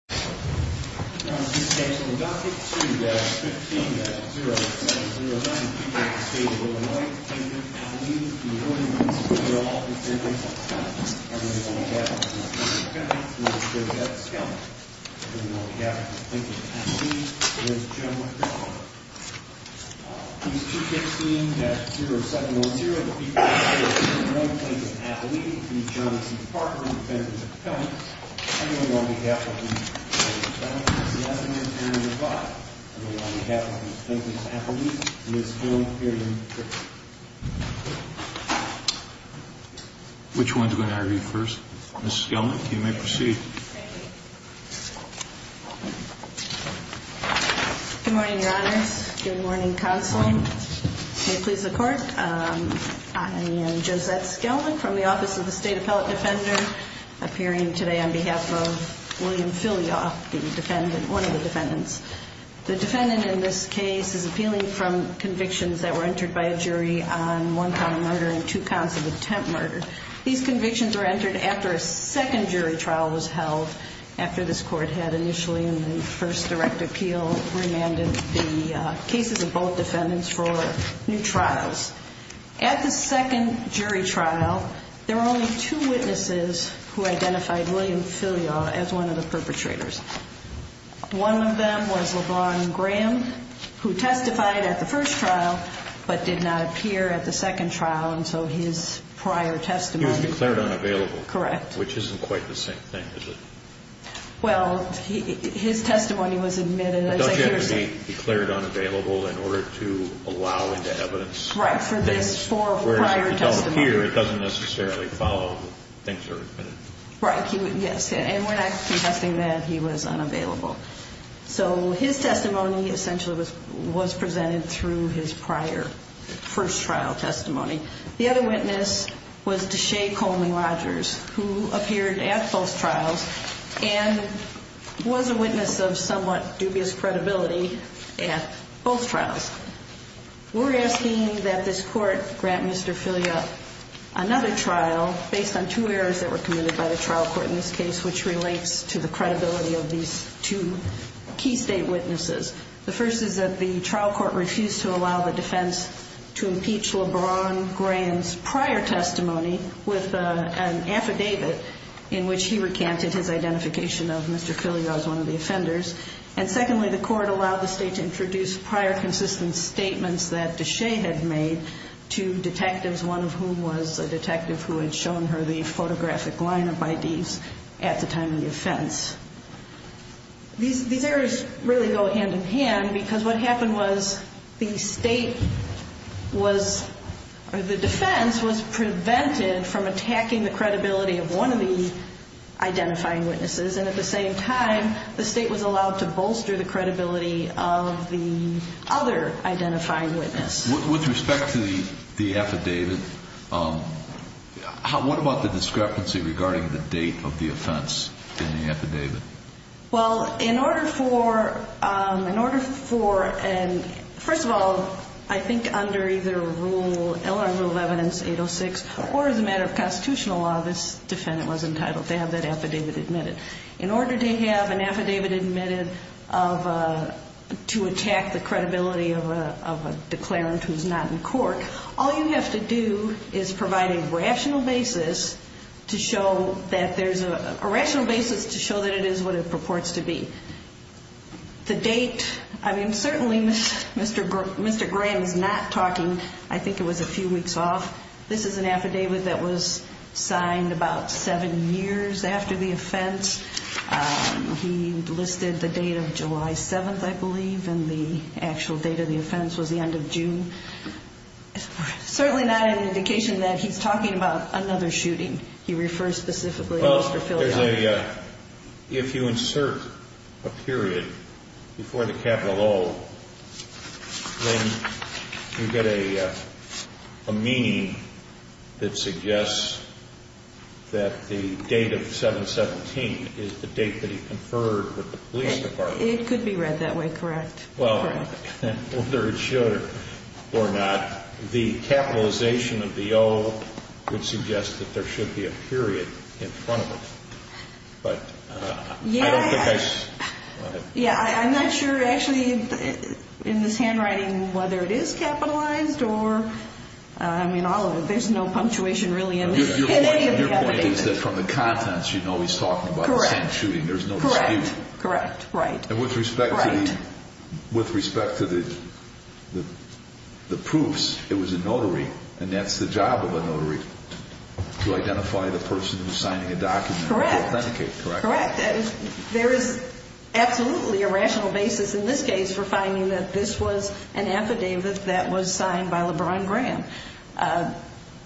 215-15-0709, People of the State of Illinois, Defendant, Appellee. The order in this case is that all defendants are found. Everyone is on behalf of Mr. Parker, Defendant, and Mr. Appellee. Everyone is on behalf of the Defendant, Appellee, and Mr. Parker. Case 215-0709, People of the State of Illinois, Defendant, Appellee. The order in this case is that all defendants are found. Everyone is on behalf of Mr. Parker, Defendant, and Mr. Parker. Everyone is on behalf of the Defendant, Appellee, and Mr. Parker. Which one is going to argue first? Mrs. Gelman, you may proceed. Good morning, Your Honors. Good morning, Counsel. May it please the Court. I am Josette Gelman from the Office of the State Appellate Defender, appearing today on behalf of William Filioff, the Defendant, one of the Defendants. The Defendant in this case is appealing from convictions that were entered by a jury on one count of murder and two counts of attempt murder. These convictions were entered after a second jury trial was held, after this Court had initially, in the first direct appeal, remanded the cases of both Defendants for new trials. At the second jury trial, there were only two witnesses who identified William Filioff as one of the perpetrators. One of them was LeBron Graham, who testified at the first trial, but did not appear at the second trial, and so his prior testimony. He was declared unavailable. Correct. Which isn't quite the same thing, is it? Well, his testimony was admitted. But doesn't he have to be declared unavailable in order to allow evidence? Right, for this, for prior testimony. Whereas if it doesn't appear, it doesn't necessarily follow that things are admitted. Right, yes, and we're not contesting that he was unavailable. So his testimony essentially was presented through his prior first trial testimony. The other witness was Deshea Coleman-Rogers, who appeared at both trials and was a witness of somewhat dubious credibility at both trials. We're asking that this Court grant Mr. Filioff another trial, based on two errors that were committed by the trial court in this case, which relates to the credibility of these two key state witnesses. The first is that the trial court refused to allow the defense to impeach LeBron Graham's prior testimony with an affidavit in which he recanted his identification of Mr. Filioff as one of the offenders. And secondly, the court allowed the state to introduce prior consistent statements that Deshea had made to detectives, one of whom was a detective who had shown her the photographic line-up IDs at the time of the offense. These errors really go hand-in-hand because what happened was the state was, or the defense was prevented from attacking the credibility of one of the identifying witnesses. And at the same time, the state was allowed to bolster the credibility of the other identifying witness. With respect to the affidavit, what about the discrepancy regarding the date of the offense in the affidavit? Well, in order for, in order for, and first of all, I think under either rule, L.R. Rule of Evidence 806, or as a matter of constitutional law, this defendant was entitled to have that affidavit admitted. In order to have an affidavit admitted of, to attack the credibility of a declarant who's not in court, all you have to do is provide a rational basis to show that there's a, a rational basis to show that it is what it purports to be. The date, I mean, certainly Mr. Graham is not talking, I think it was a few weeks off. This is an affidavit that was signed about seven years after the offense. He listed the date of July 7th, I believe, and the actual date of the offense was the end of June. Certainly not an indication that he's talking about another shooting. He refers specifically to Mr. Philadelphia. Well, there's a, if you insert a period before the capital O, then you get a, a meaning that suggests that the date of 7-17 is the date that he conferred with the police department. It could be read that way, correct. Well, whether it should or not, the capitalization of the O would suggest that there should be a period in front of it. Yeah, I'm not sure actually in this handwriting whether it is capitalized or, I mean, there's no punctuation really in any of the affidavits. Your point is that from the contents you know he's talking about the same shooting. Correct. There's no dispute. Correct, right. And with respect to the proofs, it was a notary, and that's the job of a notary, to identify the person who's signing a document. Correct. To authenticate, correct. Correct. There is absolutely a rational basis in this case for finding that this was an affidavit that was signed by LeBron Graham.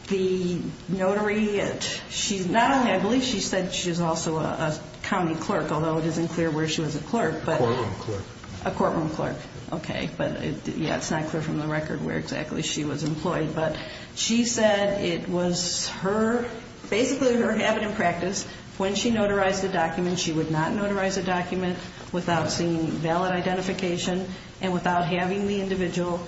The notary, she's not only, I believe she said she's also a county clerk, although it isn't clear where she was a clerk. A courtroom clerk. A courtroom clerk. Okay, but yeah, it's not clear from the record where exactly she was employed. But she said it was her, basically her habit and practice, when she notarized a document, she would not notarize a document without seeing valid identification and without having the individual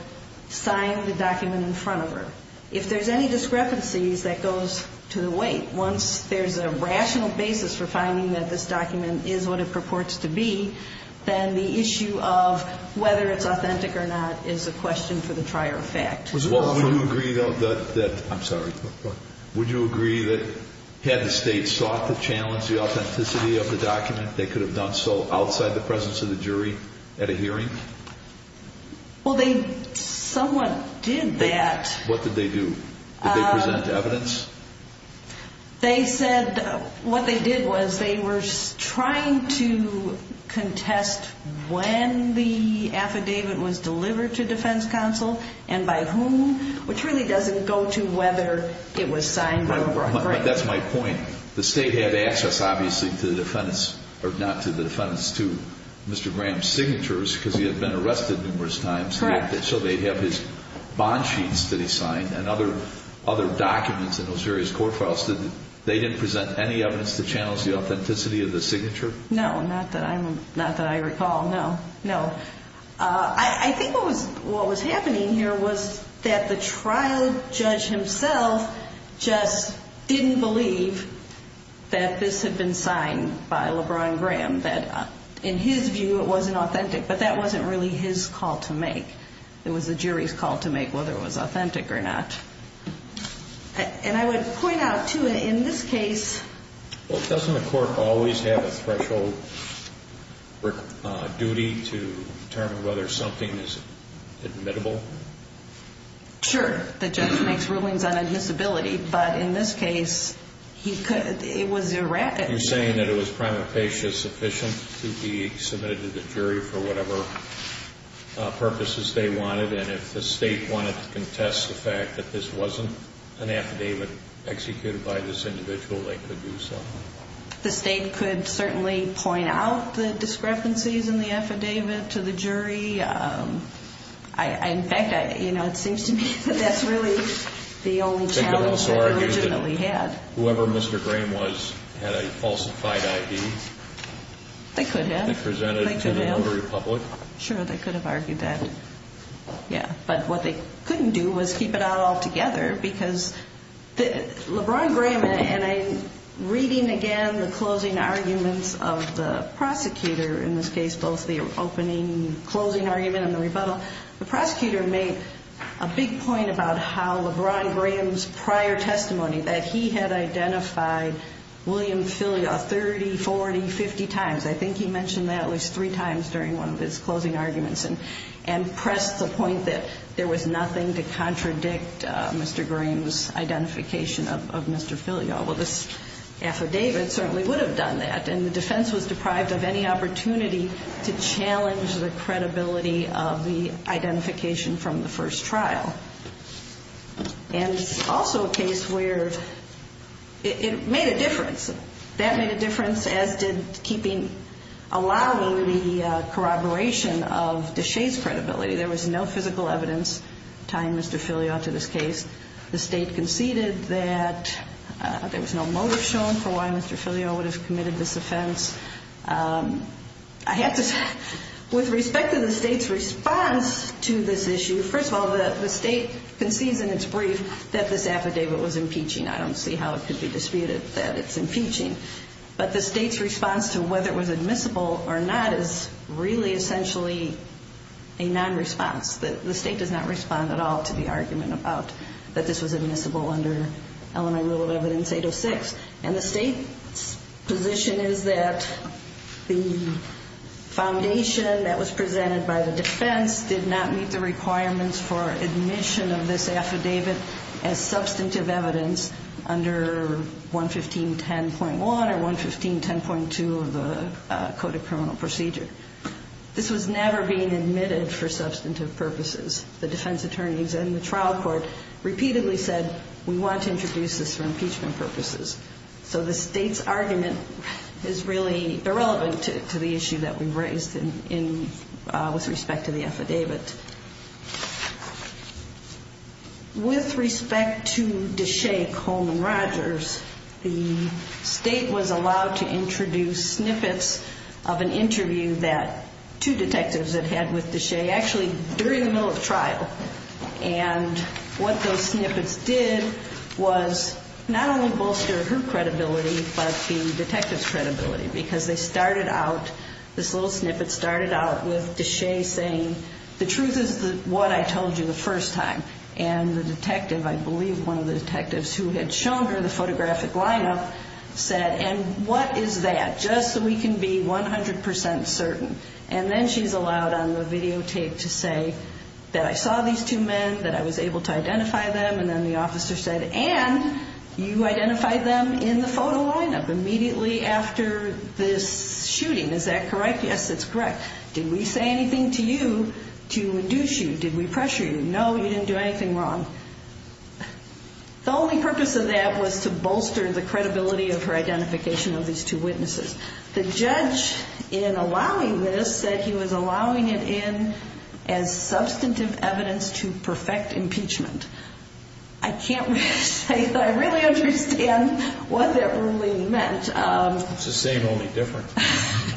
sign the document in front of her. If there's any discrepancies, that goes to the weight. Once there's a rational basis for finding that this document is what it purports to be, then the issue of whether it's authentic or not is a question for the trier of fact. Would you agree, though, that, I'm sorry, would you agree that had the state sought to challenge the authenticity of the document, they could have done so outside the presence of the jury at a hearing? Well, they somewhat did that. What did they do? Did they present evidence? They said what they did was they were trying to contest when the affidavit was delivered to defense counsel and by whom, which really doesn't go to whether it was signed or not. That's my point. The state had access, obviously, to the defendant's, or not to the defendant's, to Mr. Graham's signatures because he had been arrested numerous times, so they'd have his bond sheets that he signed and other documents in those various court files. They didn't present any evidence to challenge the authenticity of the signature? No, not that I recall, no, no. I think what was happening here was that the trial judge himself just didn't believe that this had been signed by LeBron Graham, that in his view it wasn't authentic, but that wasn't really his call to make. It was the jury's call to make whether it was authentic or not. And I would point out, too, in this case. Well, doesn't a court always have a threshold duty to determine whether something is admittable? Sure. The judge makes rulings on admissibility, but in this case it was erratic. You're saying that it was prima facie sufficient to be submitted to the jury for whatever purposes they wanted, and if the state wanted to contest the fact that this wasn't an affidavit executed by this individual, they could do so? The state could certainly point out the discrepancies in the affidavit to the jury. In fact, you know, it seems to me that that's really the only challenge they originally had. Whoever Mr. Graham was had a falsified ID? They could have. They presented it to the lower republic? Sure, they could have argued that. Yeah, but what they couldn't do was keep it out altogether because LeBron Graham, and I'm reading again the closing arguments of the prosecutor in this case, both the opening and closing argument and the rebuttal. The prosecutor made a big point about how LeBron Graham's prior testimony, that he had identified William Filio 30, 40, 50 times. I think he mentioned that at least three times during one of his closing arguments. And pressed the point that there was nothing to contradict Mr. Graham's identification of Mr. Filio. Well, this affidavit certainly would have done that. And the defense was deprived of any opportunity to challenge the credibility of the identification from the first trial. And also a case where it made a difference. That made a difference, as did allowing the corroboration of Deshaies' credibility. There was no physical evidence tying Mr. Filio to this case. The state conceded that there was no motive shown for why Mr. Filio would have committed this offense. I have to say, with respect to the state's response to this issue, first of all, the state concedes in its brief that this affidavit was impeaching. I don't see how it could be disputed that it's impeaching. But the state's response to whether it was admissible or not is really essentially a non-response. The state does not respond at all to the argument about that this was admissible under Illinois Rule of Evidence 806. And the state's position is that the foundation that was presented by the defense did not meet the requirements for admission of this affidavit as substantive evidence under 115.10.1 or 115.10.2 of the Code of Criminal Procedure. This was never being admitted for substantive purposes. The defense attorneys and the trial court repeatedly said we want to introduce this for impeachment purposes. So the state's argument is really irrelevant to the issue that we raised with respect to the affidavit. With respect to Deshea Coleman Rogers, the state was allowed to introduce snippets of an interview that two detectives had had with Deshea, actually during the middle of trial. And what those snippets did was not only bolster her credibility but the detective's credibility because they started out, this little snippet started out with Deshea saying, the truth is what I told you the first time. And the detective, I believe one of the detectives who had shown her the photographic lineup, said, and what is that, just so we can be 100 percent certain. And then she's allowed on the videotape to say that I saw these two men, that I was able to identify them, and then the officer said, and you identified them in the photo lineup immediately after this shooting. Is that correct? Yes, that's correct. Did we say anything to you to induce you? Did we pressure you? No, you didn't do anything wrong. The only purpose of that was to bolster the credibility of her identification of these two witnesses. The judge, in allowing this, said he was allowing it in as substantive evidence to perfect impeachment. I can't really say that I really understand what that really meant. It's the same, only different.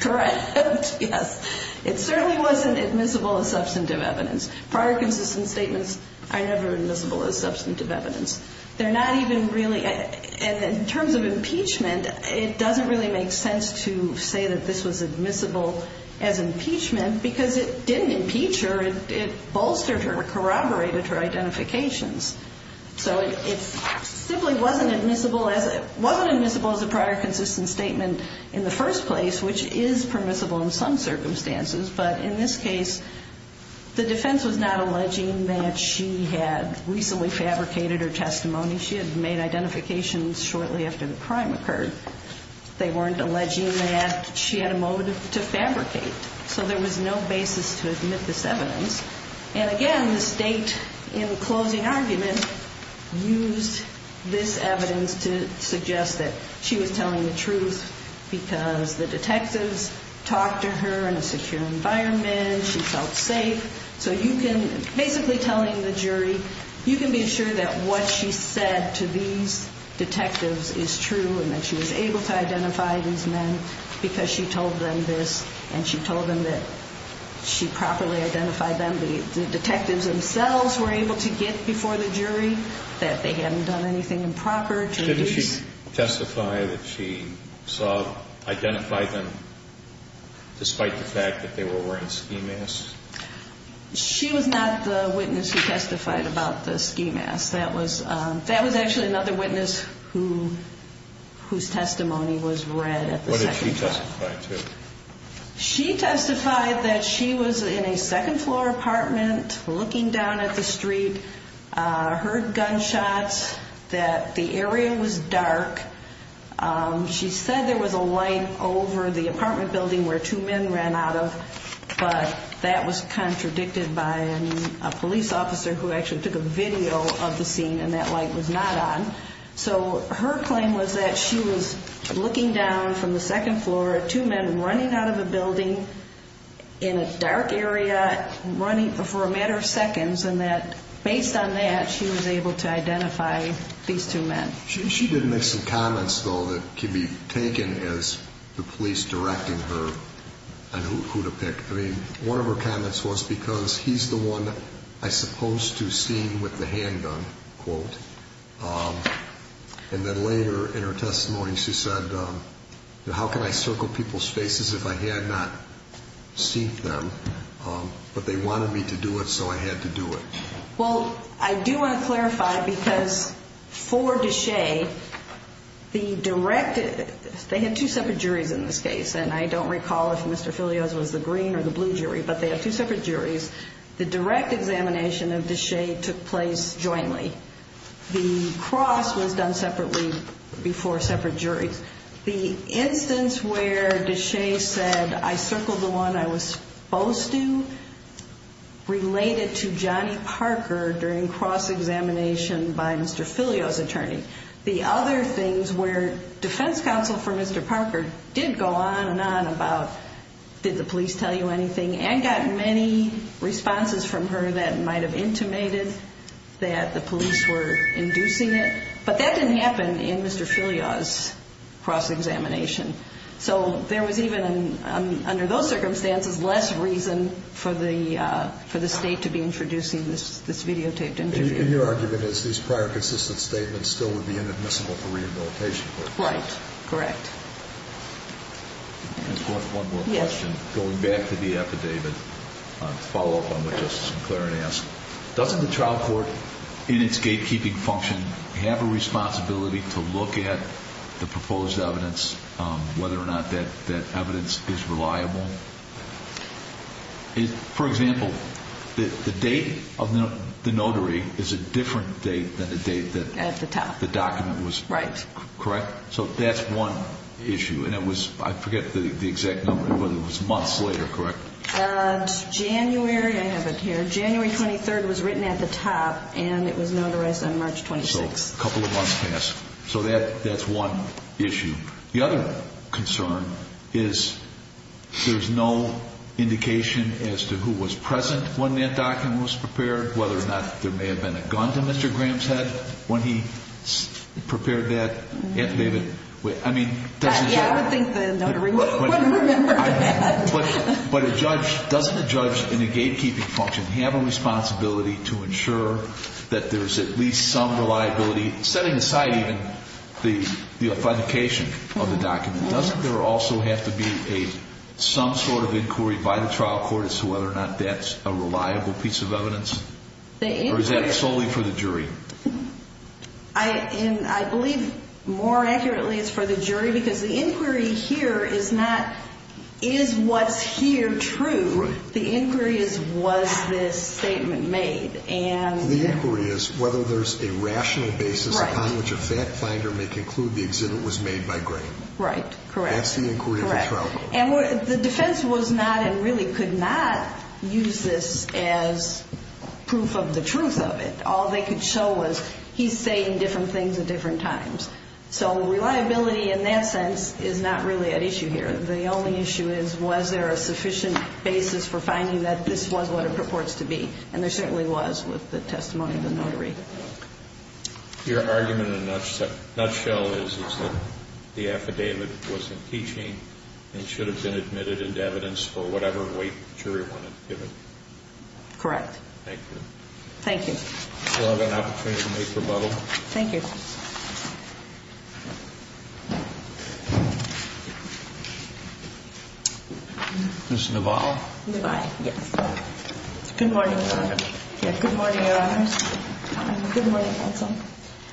Correct, yes. It certainly wasn't admissible as substantive evidence. Prior consistent statements are never admissible as substantive evidence. They're not even really, in terms of impeachment, it doesn't really make sense to say that this was admissible as impeachment, because it didn't impeach her. It bolstered her, corroborated her identifications. So it simply wasn't admissible as a prior consistent statement in the first place, which is permissible in some circumstances. But in this case, the defense was not alleging that she had recently fabricated her testimony. She had made identifications shortly after the crime occurred. They weren't alleging that she had a motive to fabricate. So there was no basis to admit this evidence. And, again, the State, in closing argument, used this evidence to suggest that she was telling the truth because the detectives talked to her in a secure environment. She felt safe. So you can, basically telling the jury, you can be sure that what she said to these detectives is true and that she was able to identify these men because she told them this and she told them that she properly identified them. The detectives themselves were able to get before the jury that they hadn't done anything improper. Didn't she testify that she saw, identified them despite the fact that they were wearing ski masks? She was not the witness who testified about the ski masks. That was actually another witness whose testimony was read at the second floor. What did she testify to? She testified that she was in a second-floor apartment looking down at the street, heard gunshots, that the area was dark. She said there was a light over the apartment building where two men ran out of, but that was contradicted by a police officer who actually took a video of the scene and that light was not on. So her claim was that she was looking down from the second floor at two men running out of a building in a dark area, but running for a matter of seconds and that based on that she was able to identify these two men. She did make some comments, though, that can be taken as the police directing her on who to pick. I mean, one of her comments was because he's the one I supposed to see with the handgun, quote. And then later in her testimony she said, how can I circle people's faces if I had not seen them, but they wanted me to do it so I had to do it? Well, I do want to clarify because for Deshaies, the direct – they had two separate juries in this case, and I don't recall if Mr. Filios was the green or the blue jury, but they have two separate juries. The direct examination of Deshaies took place jointly. The cross was done separately before separate juries. The instance where Deshaies said I circled the one I was supposed to related to Johnny Parker during cross examination by Mr. Filios' attorney. The other things were defense counsel for Mr. Parker did go on and on about did the police tell you anything and got many responses from her that might have intimated that the police were inducing it. But that didn't happen in Mr. Filios' cross examination. So there was even under those circumstances less reason for the state to be introducing this videotaped interview. And your argument is these prior consistent statements still would be inadmissible for rehabilitation. Right. Correct. Just one more question. Going back to the affidavit, to follow up on what Justice McClaren asked, doesn't the trial court in its gatekeeping function have a responsibility to look at the proposed evidence, whether or not that evidence is reliable? For example, the date of the notary is a different date than the date that the document was – At the top. Right. Correct? So that's one issue. And it was – I forget the exact number, but it was months later, correct? January, I have it here, January 23rd was written at the top and it was notarized on March 26th. So a couple of months past. So that's one issue. The other concern is there's no indication as to who was present when that document was prepared, whether or not there may have been a gun to Mr. Graham's head when he prepared that affidavit. I mean – Yeah, I would think the notary would remember that. But a judge – doesn't a judge in a gatekeeping function have a responsibility to ensure that there's at least some reliability, setting aside even the authentication of the document? Doesn't there also have to be some sort of inquiry by the trial court as to whether or not that's a reliable piece of evidence? Or is that solely for the jury? I believe more accurately it's for the jury because the inquiry here is not, is what's here true? The inquiry is, was this statement made? And – The inquiry is whether there's a rational basis upon which a fact finder may conclude the exhibit was made by Graham. Right. Correct. That's the inquiry of the trial court. And the defense was not and really could not use this as proof of the truth of it. All they could show was he's saying different things at different times. So reliability in that sense is not really at issue here. The only issue is, was there a sufficient basis for finding that this was what it purports to be? And there certainly was with the testimony of the notary. Your argument in a nutshell is that the affidavit was impeaching and should have been admitted into evidence for whatever weight the jury wanted to give it. Correct. Thank you. Thank you. Do you have an opportunity to make rebuttal? Thank you. Ms. Naval? Naval, yes. Good morning, Your Honor. Good morning, Your Honors. Good morning, counsel.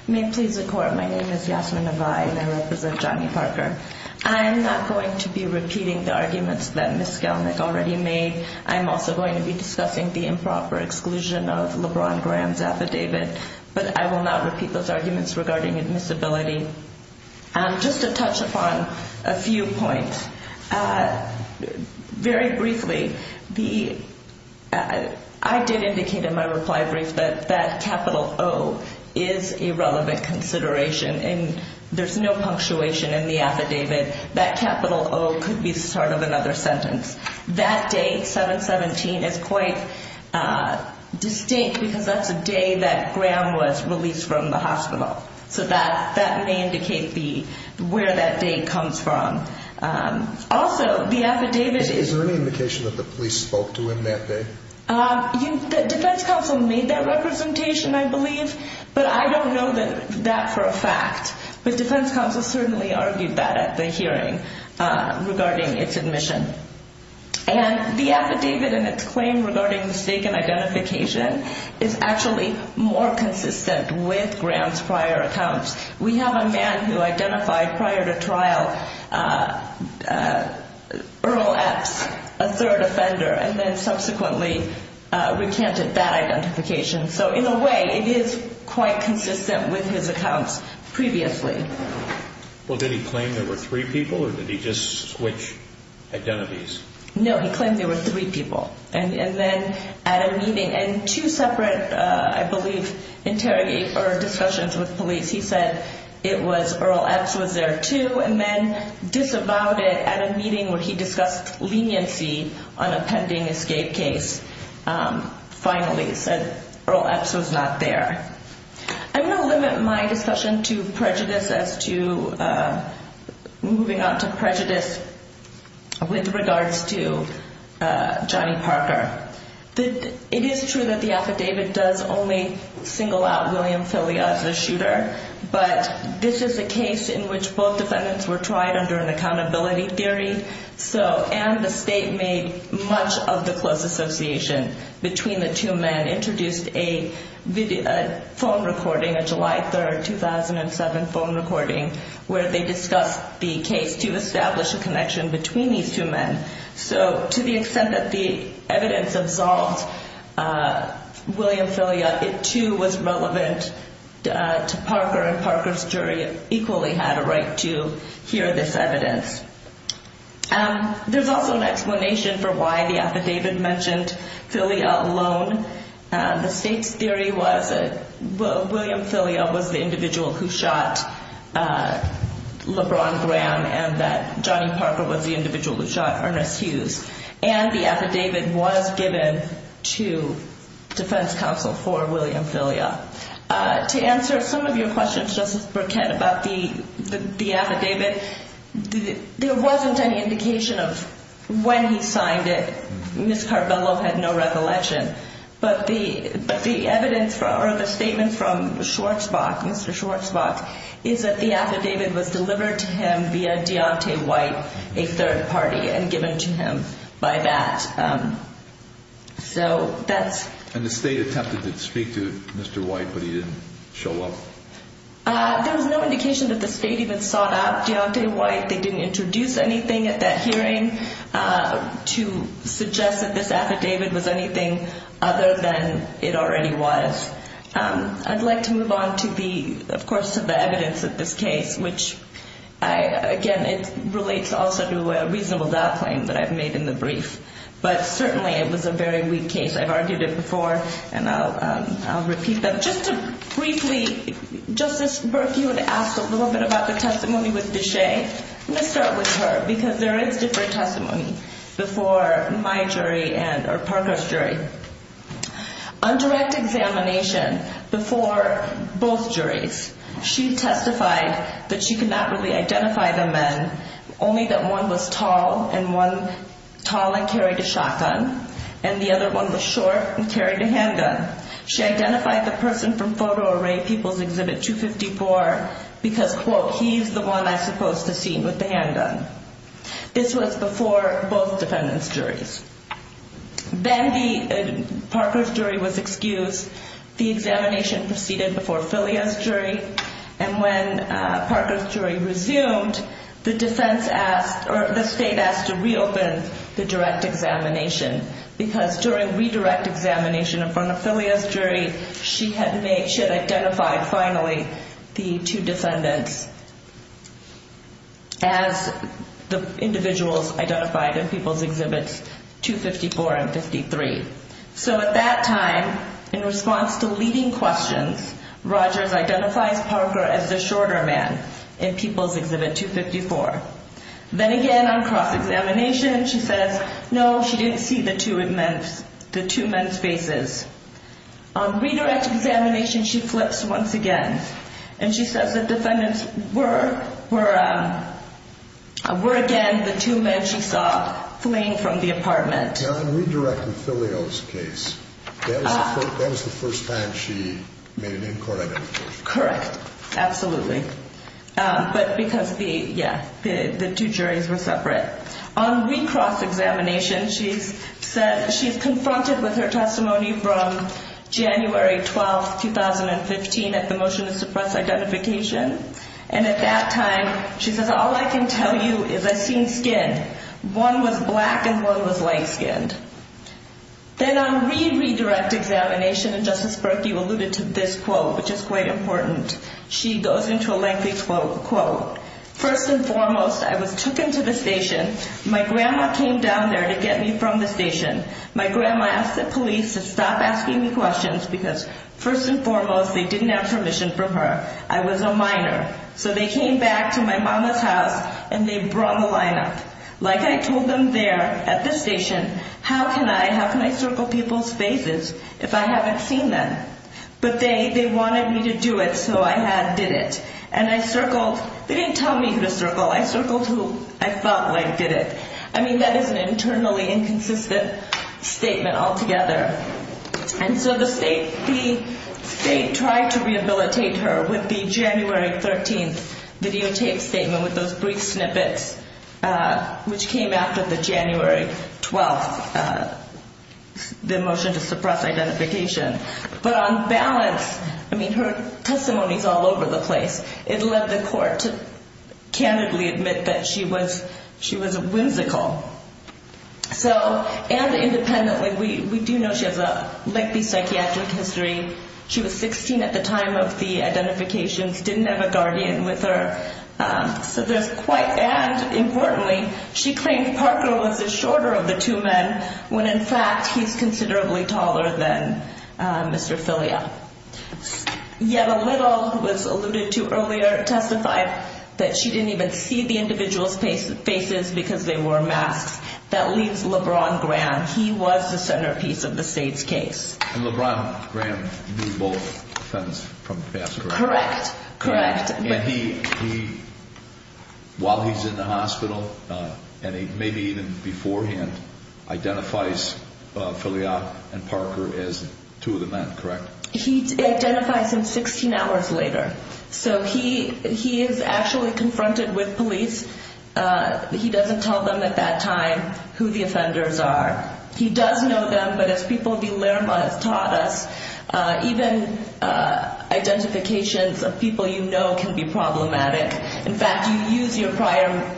May it please the Court, my name is Yasmin Naval and I represent Johnny Parker. I'm not going to be repeating the arguments that Ms. Galnick already made. I'm also going to be discussing the improper exclusion of LeBron Graham's affidavit, but I will not repeat those arguments regarding admissibility. Just to touch upon a few points, very briefly, I did indicate in my reply brief that that capital O is a relevant consideration and there's no punctuation in the affidavit. That capital O could be sort of another sentence. That day, 7-17, is quite distinct because that's the day that Graham was released from the hospital. So that may indicate where that day comes from. Also, the affidavit is... Is there any indication that the police spoke to him that day? The defense counsel made that representation, I believe, but I don't know that for a fact. But defense counsel certainly argued that at the hearing regarding its admission. And the affidavit and its claim regarding mistaken identification is actually more consistent with Graham's prior accounts. We have a man who identified prior to trial Earl Epps, a third offender, and then subsequently recanted that identification. So in a way, it is quite consistent with his accounts previously. Well, did he claim there were three people or did he just switch identities? No, he claimed there were three people. And then at a meeting and two separate, I believe, interrogate or discussions with police, he said it was Earl Epps was there too. And then disavowed it at a meeting where he discussed leniency on a pending escape case. Finally, he said Earl Epps was not there. I'm going to limit my discussion to prejudice as to moving on to prejudice with regards to Johnny Parker. It is true that the affidavit does only single out William Filia as the shooter. But this is a case in which both defendants were tried under an accountability theory. And the state made much of the close association between the two men, introduced a phone recording, a July 3, 2007 phone recording, where they discussed the case to establish a connection between these two men. So to the extent that the evidence absolved William Filia, it too was relevant to Parker. And Parker's jury equally had a right to hear this evidence. There's also an explanation for why the affidavit mentioned Filia alone. The state's theory was that William Filia was the individual who shot LeBron Graham and that Johnny Parker was the individual who shot Ernest Hughes. And the affidavit was given to defense counsel for William Filia. To answer some of your questions, Justice Burkett, about the affidavit, there wasn't any indication of when he signed it. Ms. Carbello had no recollection. But the evidence or the statement from Schwartzbach, Mr. Schwartzbach, is that the affidavit was delivered to him via Deontay White, a third party, and given to him by that. So that's... And the state attempted to speak to Mr. White, but he didn't show up? There was no indication that the state even sought out Deontay White. They didn't introduce anything at that hearing to suggest that this affidavit was anything other than it already was. I'd like to move on to the, of course, to the evidence of this case, which, again, it relates also to a reasonable doubt claim that I've made in the brief. But certainly it was a very weak case. I've argued it before, and I'll repeat that. Just to briefly, Justice Burke, you had asked a little bit about the testimony with Deshay. I'm going to start with her, because there is different testimony before my jury or Parker's jury. On direct examination before both juries, she testified that she could not really identify the men, only that one was tall, and one tall and carried a shotgun, and the other one was short and carried a handgun. She identified the person from photo array, People's Exhibit 254, because, quote, he's the one I supposed to see with the handgun. This was before both defendants' juries. Then Parker's jury was excused. The examination proceeded before Filia's jury, and when Parker's jury resumed, the defense asked, or the state asked to reopen the direct examination, because during redirect examination in front of Filia's jury, she had identified finally the two defendants as the individuals identified in People's Exhibits 254 and 53. So at that time, in response to leading questions, Rogers identifies Parker as the shorter man in People's Exhibit 254. Then again, on cross-examination, she says, no, she didn't see the two men's faces. On redirect examination, she flips once again, and she says the defendants were, again, the two men she saw fleeing from the apartment. Now, in redirecting Filia's case, that was the first time she made an in-court identification? Correct. Absolutely. But because the, yeah, the two juries were separate. On recross examination, she's confronted with her testimony from January 12, 2015, at the motion to suppress identification. And at that time, she says, all I can tell you is I seen skin. One was black and one was light-skinned. Then on re-redirect examination, and Justice Berkey alluded to this quote, which is quite important. She goes into a lengthy quote. First and foremost, I was taken to the station. My grandma came down there to get me from the station. My grandma asked the police to stop asking me questions because, first and foremost, they didn't have permission from her. I was a minor. So they came back to my mama's house, and they brought the lineup. Like I told them there at the station, how can I circle people's faces if I haven't seen them? But they wanted me to do it, so I did it. And I circled. They didn't tell me who to circle. I circled who I thought did it. I mean, that is an internally inconsistent statement altogether. And so the state tried to rehabilitate her with the January 13th videotape statement with those brief snippets, which came after the January 12th, the motion to suppress identification. But on balance, I mean, her testimony is all over the place. It led the court to candidly admit that she was a whimsical. So, and independently, we do know she has a lengthy psychiatric history. She was 16 at the time of the identifications, didn't have a guardian with her. So there's quite, and importantly, she claimed Parker was the shorter of the two men when, in fact, he's considerably taller than Mr. Filia. Yet a little, was alluded to earlier, testified that she didn't even see the individual's faces because they wore masks. That leaves LeBron Graham. He was the centerpiece of the state's case. And LeBron Graham knew both sons from the past, correct? Correct, correct. And he, while he's in the hospital, and maybe even beforehand, identifies Filia and Parker as two of the men, correct? He identifies him 16 hours later. So he is actually confronted with police. He doesn't tell them at that time who the offenders are. He does know them, but as people of the LRMA has taught us, even identifications of people you know can be problematic. In fact, you use your prior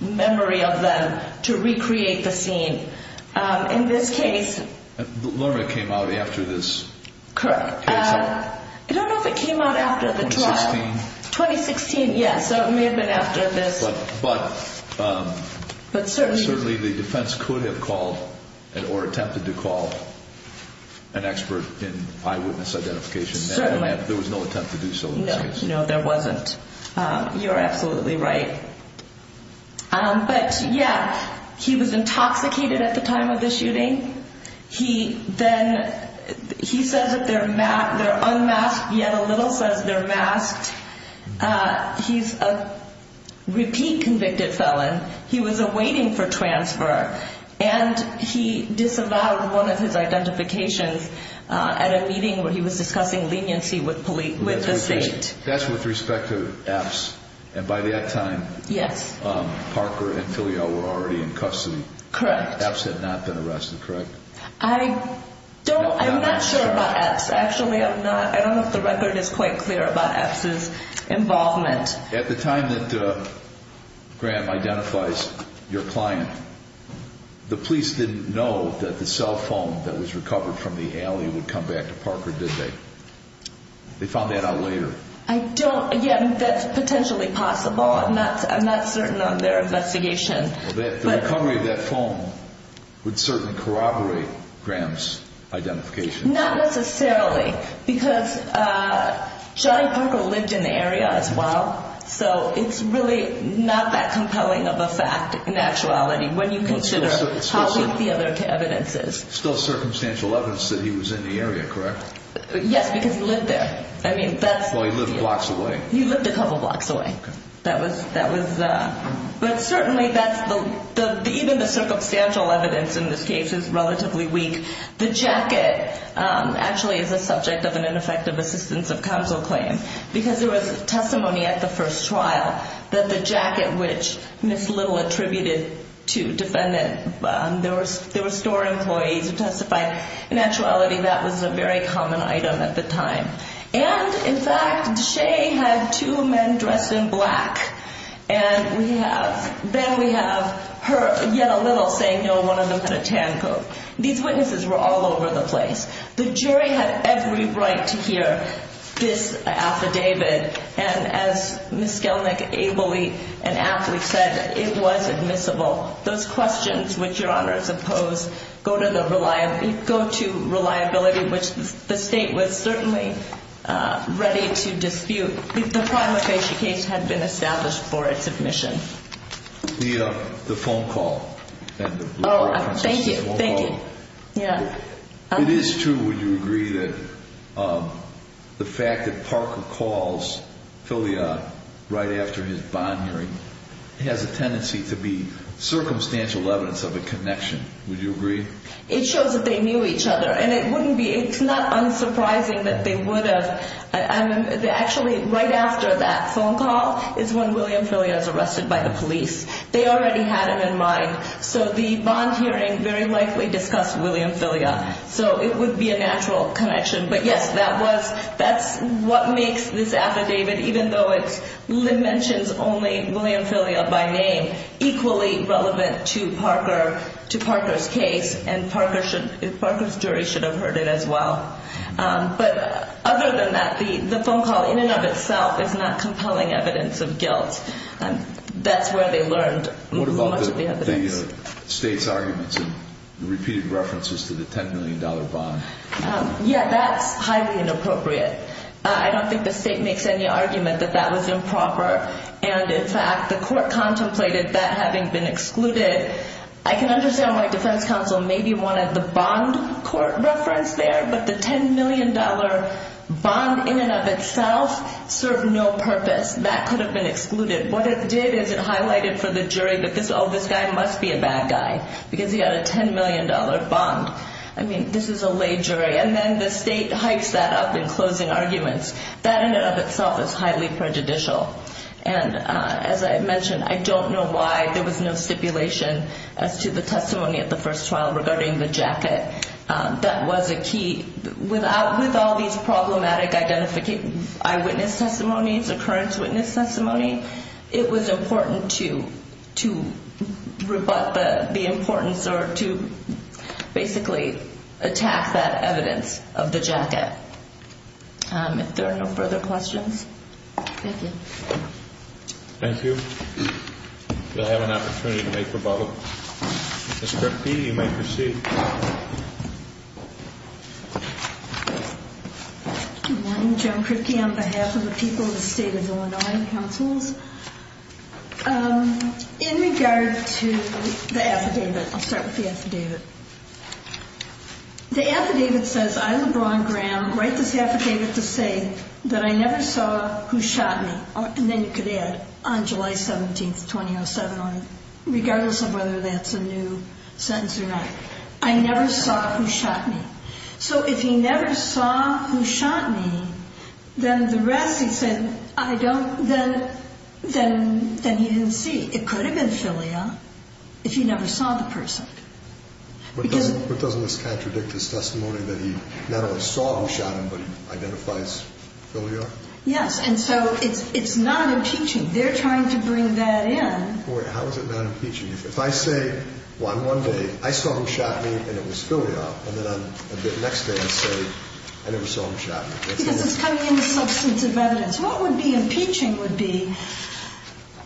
memory of them to recreate the scene. In this case. LRMA came out after this. Correct. I don't know if it came out after the trial. 2016. 2016, yes. So it may have been after this. But certainly the defense could have called or attempted to call an expert in eyewitness identification. Certainly. There was no attempt to do so. No, there wasn't. You're absolutely right. But, yeah, he was intoxicated at the time of the shooting. Then he says that they're unmasked, yet a little says they're masked. He's a repeat convicted felon. He was awaiting for transfer. And he disavowed one of his identifications at a meeting where he was discussing leniency with the state. That's with respect to EPS. And by that time. Yes. Parker and Filial were already in custody. Correct. EPS had not been arrested, correct? I don't, I'm not sure about EPS, actually. I'm not, I don't know if the record is quite clear about EPS's involvement. At the time that Graham identifies your client, the police didn't know that the cell phone that was recovered from the alley would come back to Parker, did they? They found that out later. I don't, yeah, that's potentially possible. I'm not certain on their investigation. The recovery of that phone would certainly corroborate Graham's identification. Not necessarily. Because Johnny Parker lived in the area as well. So it's really not that compelling of a fact in actuality when you consider how weak the evidence is. Still circumstantial evidence that he was in the area, correct? Yes, because he lived there. I mean, that's. Well, he lived blocks away. He lived a couple blocks away. Okay. That was, that was, but certainly that's the, even the circumstantial evidence in this case is relatively weak. The jacket actually is a subject of an ineffective assistance of counsel claim. Because there was testimony at the first trial that the jacket which Ms. Little attributed to defendant, there were store employees who testified. In actuality, that was a very common item at the time. And, in fact, Shea had two men dressed in black. And we have, then we have her, yet a little, saying no, one of them had a tan coat. These witnesses were all over the place. The jury had every right to hear this affidavit. And as Ms. Skelnick ably and aptly said, it was admissible. Those questions, which Your Honor has opposed, go to the reliability, go to reliability, which the state was certainly ready to dispute. The final case had been established for its admission. The phone call. Oh, thank you. Thank you. Yeah. It is true, would you agree, that the fact that Parker calls Filiad right after his bond hearing has a tendency to be circumstantial evidence of a connection. Would you agree? It shows that they knew each other. And it wouldn't be, it's not unsurprising that they would have. Actually, right after that phone call is when William Filiad was arrested by the police. They already had him in mind. So the bond hearing very likely discussed William Filiad. So it would be a natural connection. But, yes, that was, that's what makes this affidavit, even though it mentions only William Filiad by name, equally relevant to Parker, to Parker's case. And Parker's jury should have heard it as well. But other than that, the phone call in and of itself is not compelling evidence of guilt. That's where they learned most of the evidence. Thank you. State's arguments and repeated references to the $10 million bond. Yeah, that's highly inappropriate. I don't think the state makes any argument that that was improper. And, in fact, the court contemplated that having been excluded. I can understand why defense counsel maybe wanted the bond court reference there. But the $10 million bond in and of itself served no purpose. That could have been excluded. What it did is it highlighted for the jury that, oh, this guy must be a bad guy because he had a $10 million bond. I mean, this is a lay jury. And then the state hypes that up in closing arguments. That in and of itself is highly prejudicial. And, as I mentioned, I don't know why there was no stipulation as to the testimony at the first trial regarding the jacket. That was a key. With all these problematic eyewitness testimonies, occurrence witness testimony, it was important to rebut the importance or to basically attack that evidence of the jacket. If there are no further questions. Thank you. Thank you. We'll have an opportunity to make rebuttal. Ms. Kripke, you may proceed. Good morning, Jim Kripke. On behalf of the people of the State of Illinois Councils. In regard to the affidavit, I'll start with the affidavit. The affidavit says, I, LeBron Graham, write this affidavit to say that I never saw who shot me. And then you could add, on July 17th, 2007, regardless of whether that's a new sentence or not. I never saw who shot me. So if he never saw who shot me, then the rest, he said, I don't, then he didn't see. It could have been Filia if he never saw the person. But doesn't this contradict his testimony that he not only saw who shot him, but identifies Filia? Yes. And so it's not impeaching. They're trying to bring that in. How is it not impeaching? If I say, well, on one day, I saw who shot me, and it was Filia. And then the next day I say, I never saw who shot me. Because it's coming in the substance of evidence. What would be impeaching would be,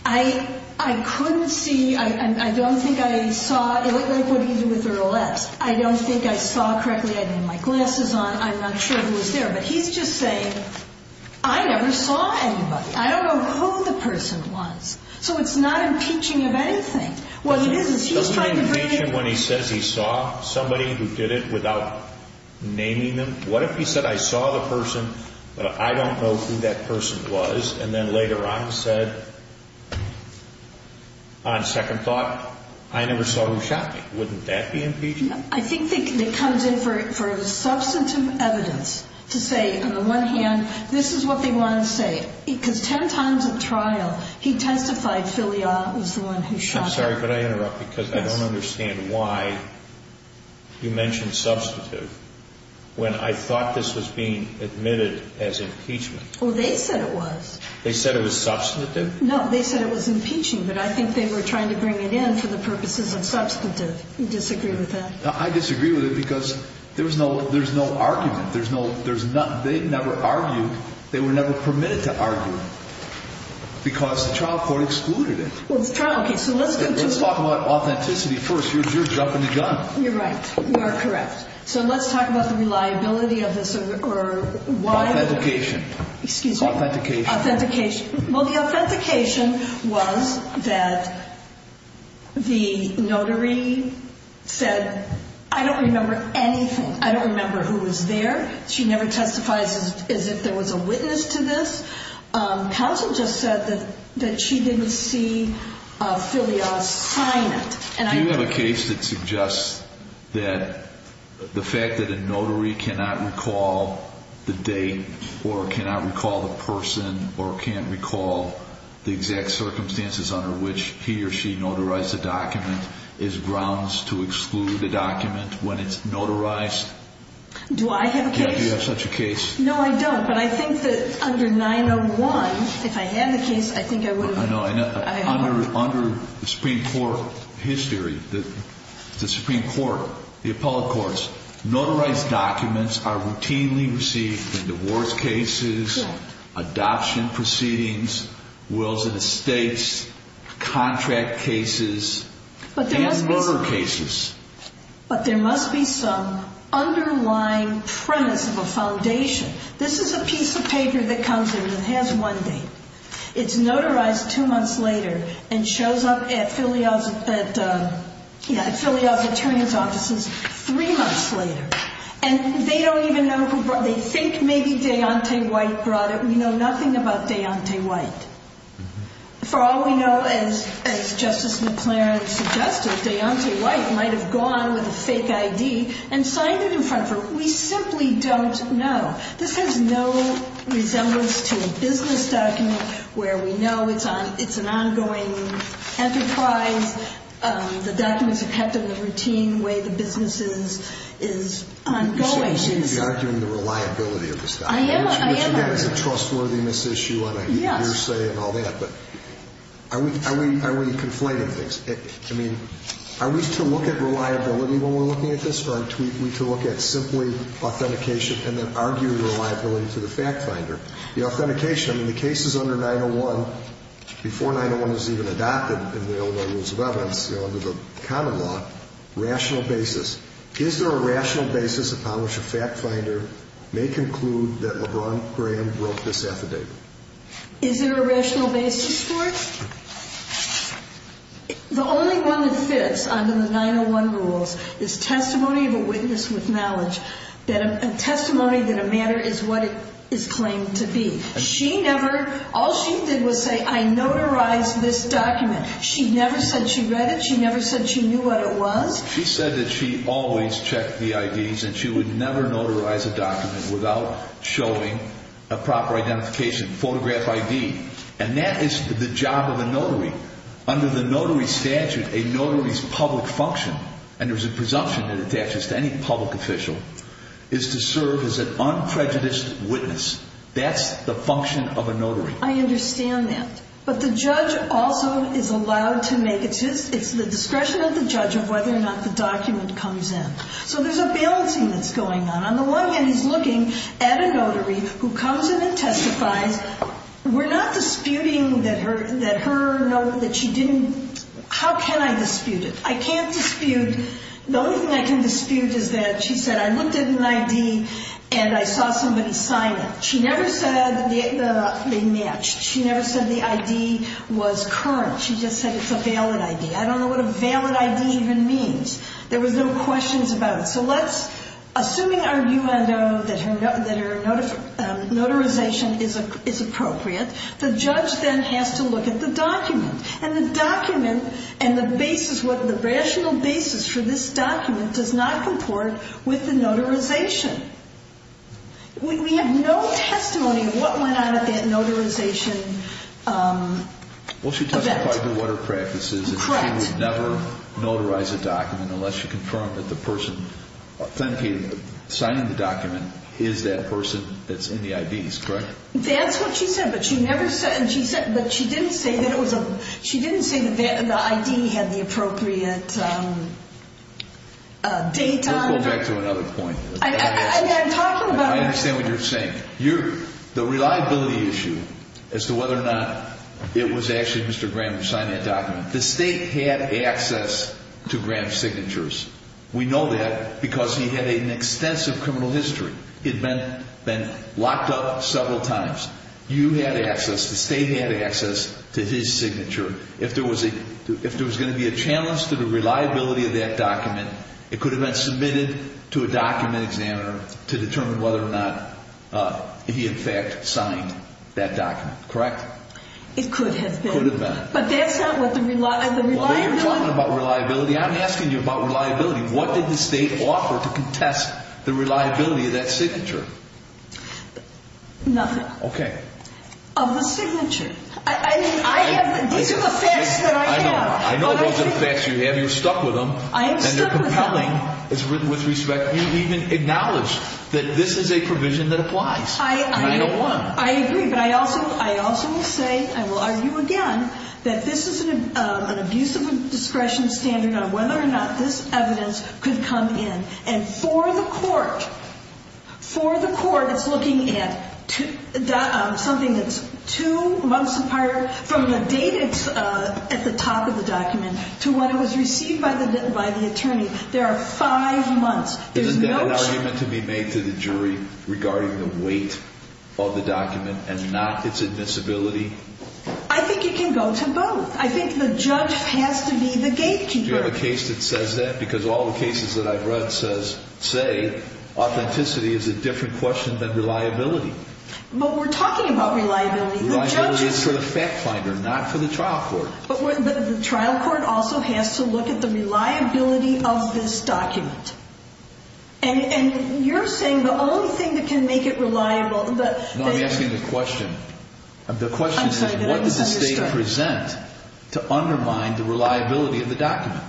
I couldn't see, I don't think I saw, like what do you do with your left? I don't think I saw correctly. I didn't have my glasses on. I'm not sure who was there. But he's just saying, I never saw anybody. I don't know who the person was. So it's not impeaching of anything. What it is, is he's trying to bring it in. Doesn't it impeach him when he says he saw somebody who did it without naming them? What if he said, I saw the person, but I don't know who that person was. And then later on said, on second thought, I never saw who shot me. Wouldn't that be impeaching? I think it comes in for substantive evidence to say, on the one hand, this is what they want to say. Because 10 times at trial, he testified Filia was the one who shot him. I'm sorry, but I interrupt because I don't understand why you mentioned substantive when I thought this was being admitted as impeachment. Oh, they said it was. They said it was substantive? No, they said it was impeaching. But I think they were trying to bring it in for the purposes of substantive. You disagree with that? I disagree with it because there's no argument. They never argued. They were never permitted to argue because the trial court excluded it. Let's talk about authenticity first. You're dropping the gun. You're right. You are correct. So let's talk about the reliability of this or why. Authentication. Excuse me? Authentication. Well, the authentication was that the notary said, I don't remember anything. I don't remember who was there. She never testifies as if there was a witness to this. Counsel just said that she didn't see Filia sign it. Do you have a case that suggests that the fact that a notary cannot recall the date or cannot recall the person or can't recall the exact circumstances under which he or she notarized the document is grounds to exclude the document when it's notarized? Do I have a case? Do you have such a case? No, I don't. But I think that under 901, if I had the case, I think I would have. I don't know. Under the Supreme Court history, the Supreme Court, the appellate courts, notarized documents are routinely received in divorce cases, adoption proceedings, wills and estates, contract cases, and murder cases. But there must be some underlying premise of a foundation. This is a piece of paper that comes in and has one date. It's notarized two months later and shows up at Filia's attorney's offices three months later. And they don't even know who brought it. They think maybe Deontay White brought it. We know nothing about Deontay White. For all we know, as Justice McLaren suggested, Deontay White might have gone with a fake ID and signed it in front of her. We simply don't know. This has no resemblance to a business document where we know it's an ongoing enterprise. The documents are kept in the routine way the business is ongoing. You seem to be arguing the reliability of this document. I am, I am, I am. Which again is a trustworthiness issue and a hearsay and all that. But are we conflating things? I mean, are we to look at reliability when we're looking at this? Or are we to look at simply authentication and then argue reliability to the fact finder? The authentication, I mean, the cases under 901, before 901 was even adopted in the Illinois Rules of Evidence, under the common law, rational basis. Is there a rational basis upon which a fact finder may conclude that LeBron Graham broke this affidavit? Is there a rational basis for it? The only one that fits under the 901 rules is testimony of a witness with knowledge. A testimony that a matter is what it is claimed to be. She never, all she did was say, I notarized this document. She never said she read it. She never said she knew what it was. She said that she always checked the IDs and she would never notarize a document without showing a proper identification, photograph ID. And that is the job of a notary. Under the notary statute, a notary's public function, and there's a presumption that attaches to any public official, is to serve as an unprejudiced witness. That's the function of a notary. I understand that. But the judge also is allowed to make, it's the discretion of the judge of whether or not the document comes in. So there's a balancing that's going on. On the one hand, he's looking at a notary who comes in and testifies. We're not disputing that her note, that she didn't, how can I dispute it? I can't dispute, the only thing I can dispute is that she said, I looked at an ID and I saw somebody sign it. She never said they matched. She never said the ID was current. She just said it's a valid ID. I don't know what a valid ID even means. There was no questions about it. So let's, assuming our UNO, that her notarization is appropriate, the judge then has to look at the document. And the document and the basis, the rational basis for this document does not comport with the notarization. We have no testimony of what went on at that notarization event. Well, she testified to what her practice is. Correct. That she would never notarize a document unless she confirmed that the person signing the document is that person that's in the IDs, correct? That's what she said, but she never said, but she didn't say that it was, she didn't say that the ID had the appropriate date on it. We'll go back to another point. I'm talking about. I understand what you're saying. The reliability issue as to whether or not it was actually Mr. Graham who signed that document. The state had access to Graham's signatures. We know that because he had an extensive criminal history. He had been locked up several times. You had access, the state had access to his signature. If there was going to be a challenge to the reliability of that document, it could have been submitted to a document examiner to determine whether or not he in fact signed that document. Correct? It could have been. Could have been. But that's not what the reliability. Well, you're talking about reliability. I'm asking you about reliability. What did the state offer to contest the reliability of that signature? Nothing. Okay. Of the signature. These are the facts that I have. I know those are the facts you have. You're stuck with them. I am stuck with them. And they're compelling with respect. You even acknowledge that this is a provision that applies. And I don't want to. I agree. But I also will say, I will argue again, that this is an abuse of discretion standard on whether or not this evidence could come in. And for the court, for the court that's looking at something that's two months from the date at the top of the document to when it was received by the attorney, there are five months. Isn't that an argument to be made to the jury regarding the weight of the document and not its admissibility? I think it can go to both. I think the judge has to be the gatekeeper. Do you have a case that says that? Because all the cases that I've read say authenticity is a different question than reliability. But we're talking about reliability. Reliability is for the fact finder, not for the trial court. But the trial court also has to look at the reliability of this document. And you're saying the only thing that can make it reliable. No, I'm asking the question. The question is what does the state present to undermine the reliability of the document?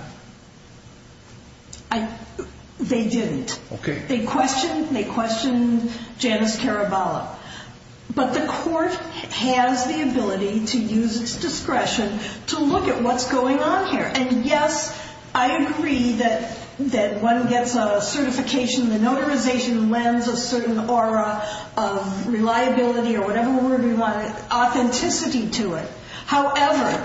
They didn't. Okay. They questioned Janice Caraballo. But the court has the ability to use its discretion to look at what's going on here. And, yes, I agree that one gets a certification, the notarization lends a certain aura of reliability or whatever word we want, authenticity to it. However,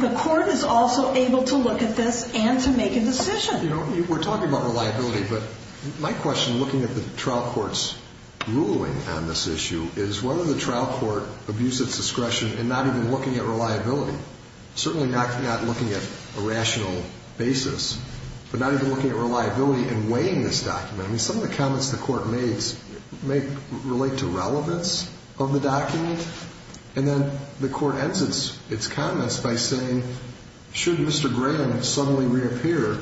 the court is also able to look at this and to make a decision. You know, we're talking about reliability. But my question, looking at the trial court's ruling on this issue, is whether the trial court abused its discretion in not even looking at reliability. Certainly not looking at a rational basis, but not even looking at reliability in weighing this document. I mean, some of the comments the court made may relate to relevance of the document. And then the court ends its comments by saying, should Mr. Graham suddenly reappear,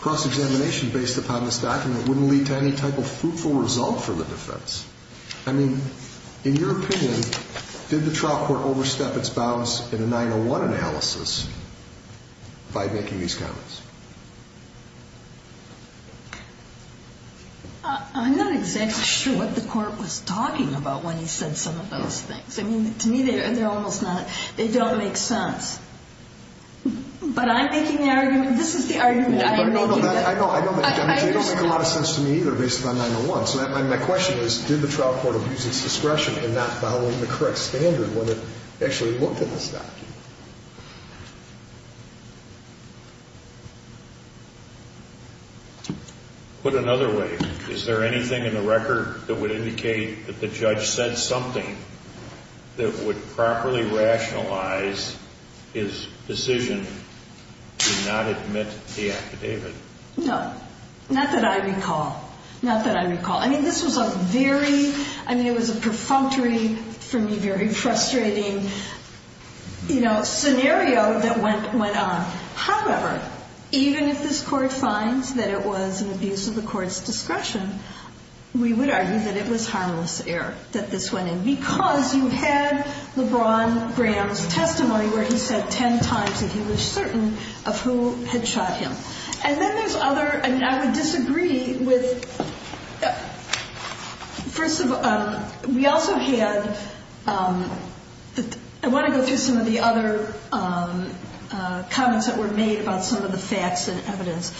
cross-examination based upon this document wouldn't lead to any type of fruitful result for the defense. I mean, in your opinion, did the trial court overstep its bounds in a 901 analysis by making these comments? I'm not exactly sure what the court was talking about when he said some of those things. I mean, to me, they're almost not – they don't make sense. But I'm making the argument – this is the argument I am making. I know, but they don't make a lot of sense to me either based on 901. So my question is, did the trial court abuse its discretion in not following the correct standard when it actually looked at this document? Put another way, is there anything in the record that would indicate that the judge said something that would properly rationalize his decision to not admit the affidavit? No. Not that I recall. Not that I recall. I mean, this was a very – I mean, it was a perfunctory, for me, very frustrating scenario that went on. However, even if this court finds that it was an abuse of the court's discretion, we would argue that it was harmless error that this went in, because you had LeBron Graham's testimony where he said 10 times that he was certain of who had shot him. And then there's other – I mean, I would disagree with – first of all, we also had – I want to go through some of the other comments that were made about some of the facts and evidence.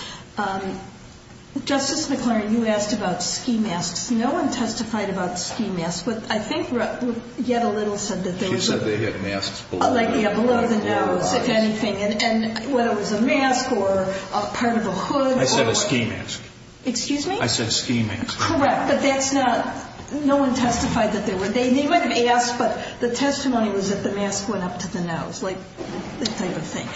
Justice McClernand, you asked about ski masks. No one testified about ski masks, but I think yet a little said that they were – She said they had masks below their eyes. And whether it was a mask or part of a hood. I said a ski mask. Excuse me? I said a ski mask. Correct, but that's not – no one testified that they were – they might have asked, but the testimony was that the mask went up to the nose, like that type of thing.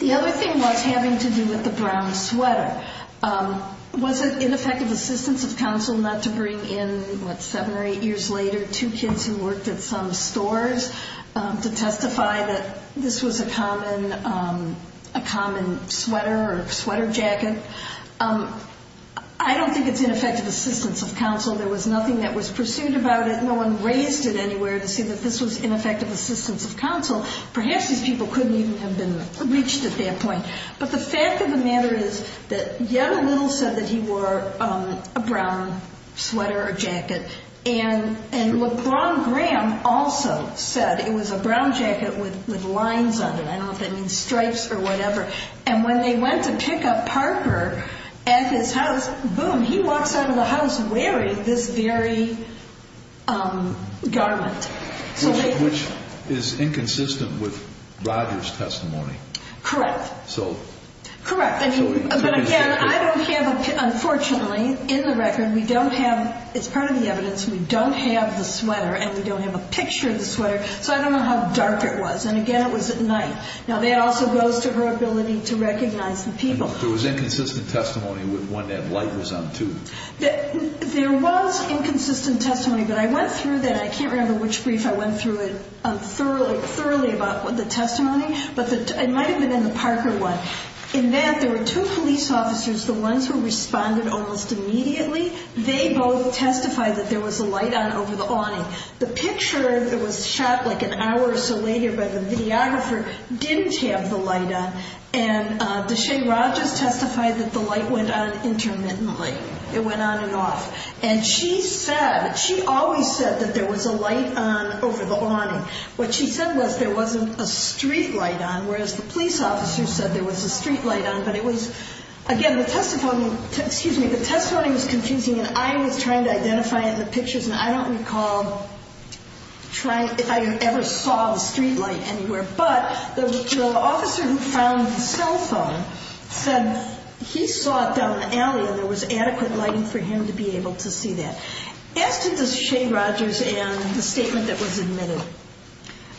The other thing was having to do with the brown sweater. Was it ineffective assistance of counsel not to bring in, what, seven or eight years later, two kids who worked at some stores to testify that this was a common sweater or sweater jacket? I don't think it's ineffective assistance of counsel. There was nothing that was pursued about it. No one raised it anywhere to say that this was ineffective assistance of counsel. Perhaps these people couldn't even have been reached at that point. But the fact of the matter is that yet a little said that he wore a brown sweater or jacket. And LeBron Graham also said it was a brown jacket with lines on it. I don't know if that means stripes or whatever. And when they went to pick up Parker at his house, boom, he walks out of the house wearing this very garment. Which is inconsistent with Rogers' testimony. Correct. So – Correct. But, again, I don't have a – unfortunately, in the record, we don't have – it's part of the evidence. We don't have the sweater and we don't have a picture of the sweater. So I don't know how dark it was. And, again, it was at night. Now, that also goes to her ability to recognize the people. There was inconsistent testimony with when that light was on, too. There was inconsistent testimony. But I went through that. I can't remember which brief. I went through it thoroughly about the testimony. But it might have been in the Parker one. In that, there were two police officers, the ones who responded almost immediately. They both testified that there was a light on over the awning. The picture that was shot like an hour or so later by the videographer didn't have the light on. And Deshae Rogers testified that the light went on intermittently. It went on and off. And she said – she always said that there was a light on over the awning. What she said was there wasn't a street light on, whereas the police officer said there was a street light on. But it was – again, the testimony – excuse me. The testimony was confusing, and I was trying to identify it in the pictures. And I don't recall trying – if I ever saw the street light anywhere. But the officer who found the cell phone said he saw it down the alley, and there was adequate lighting for him to be able to see that. As to Deshae Rogers and the statement that was admitted,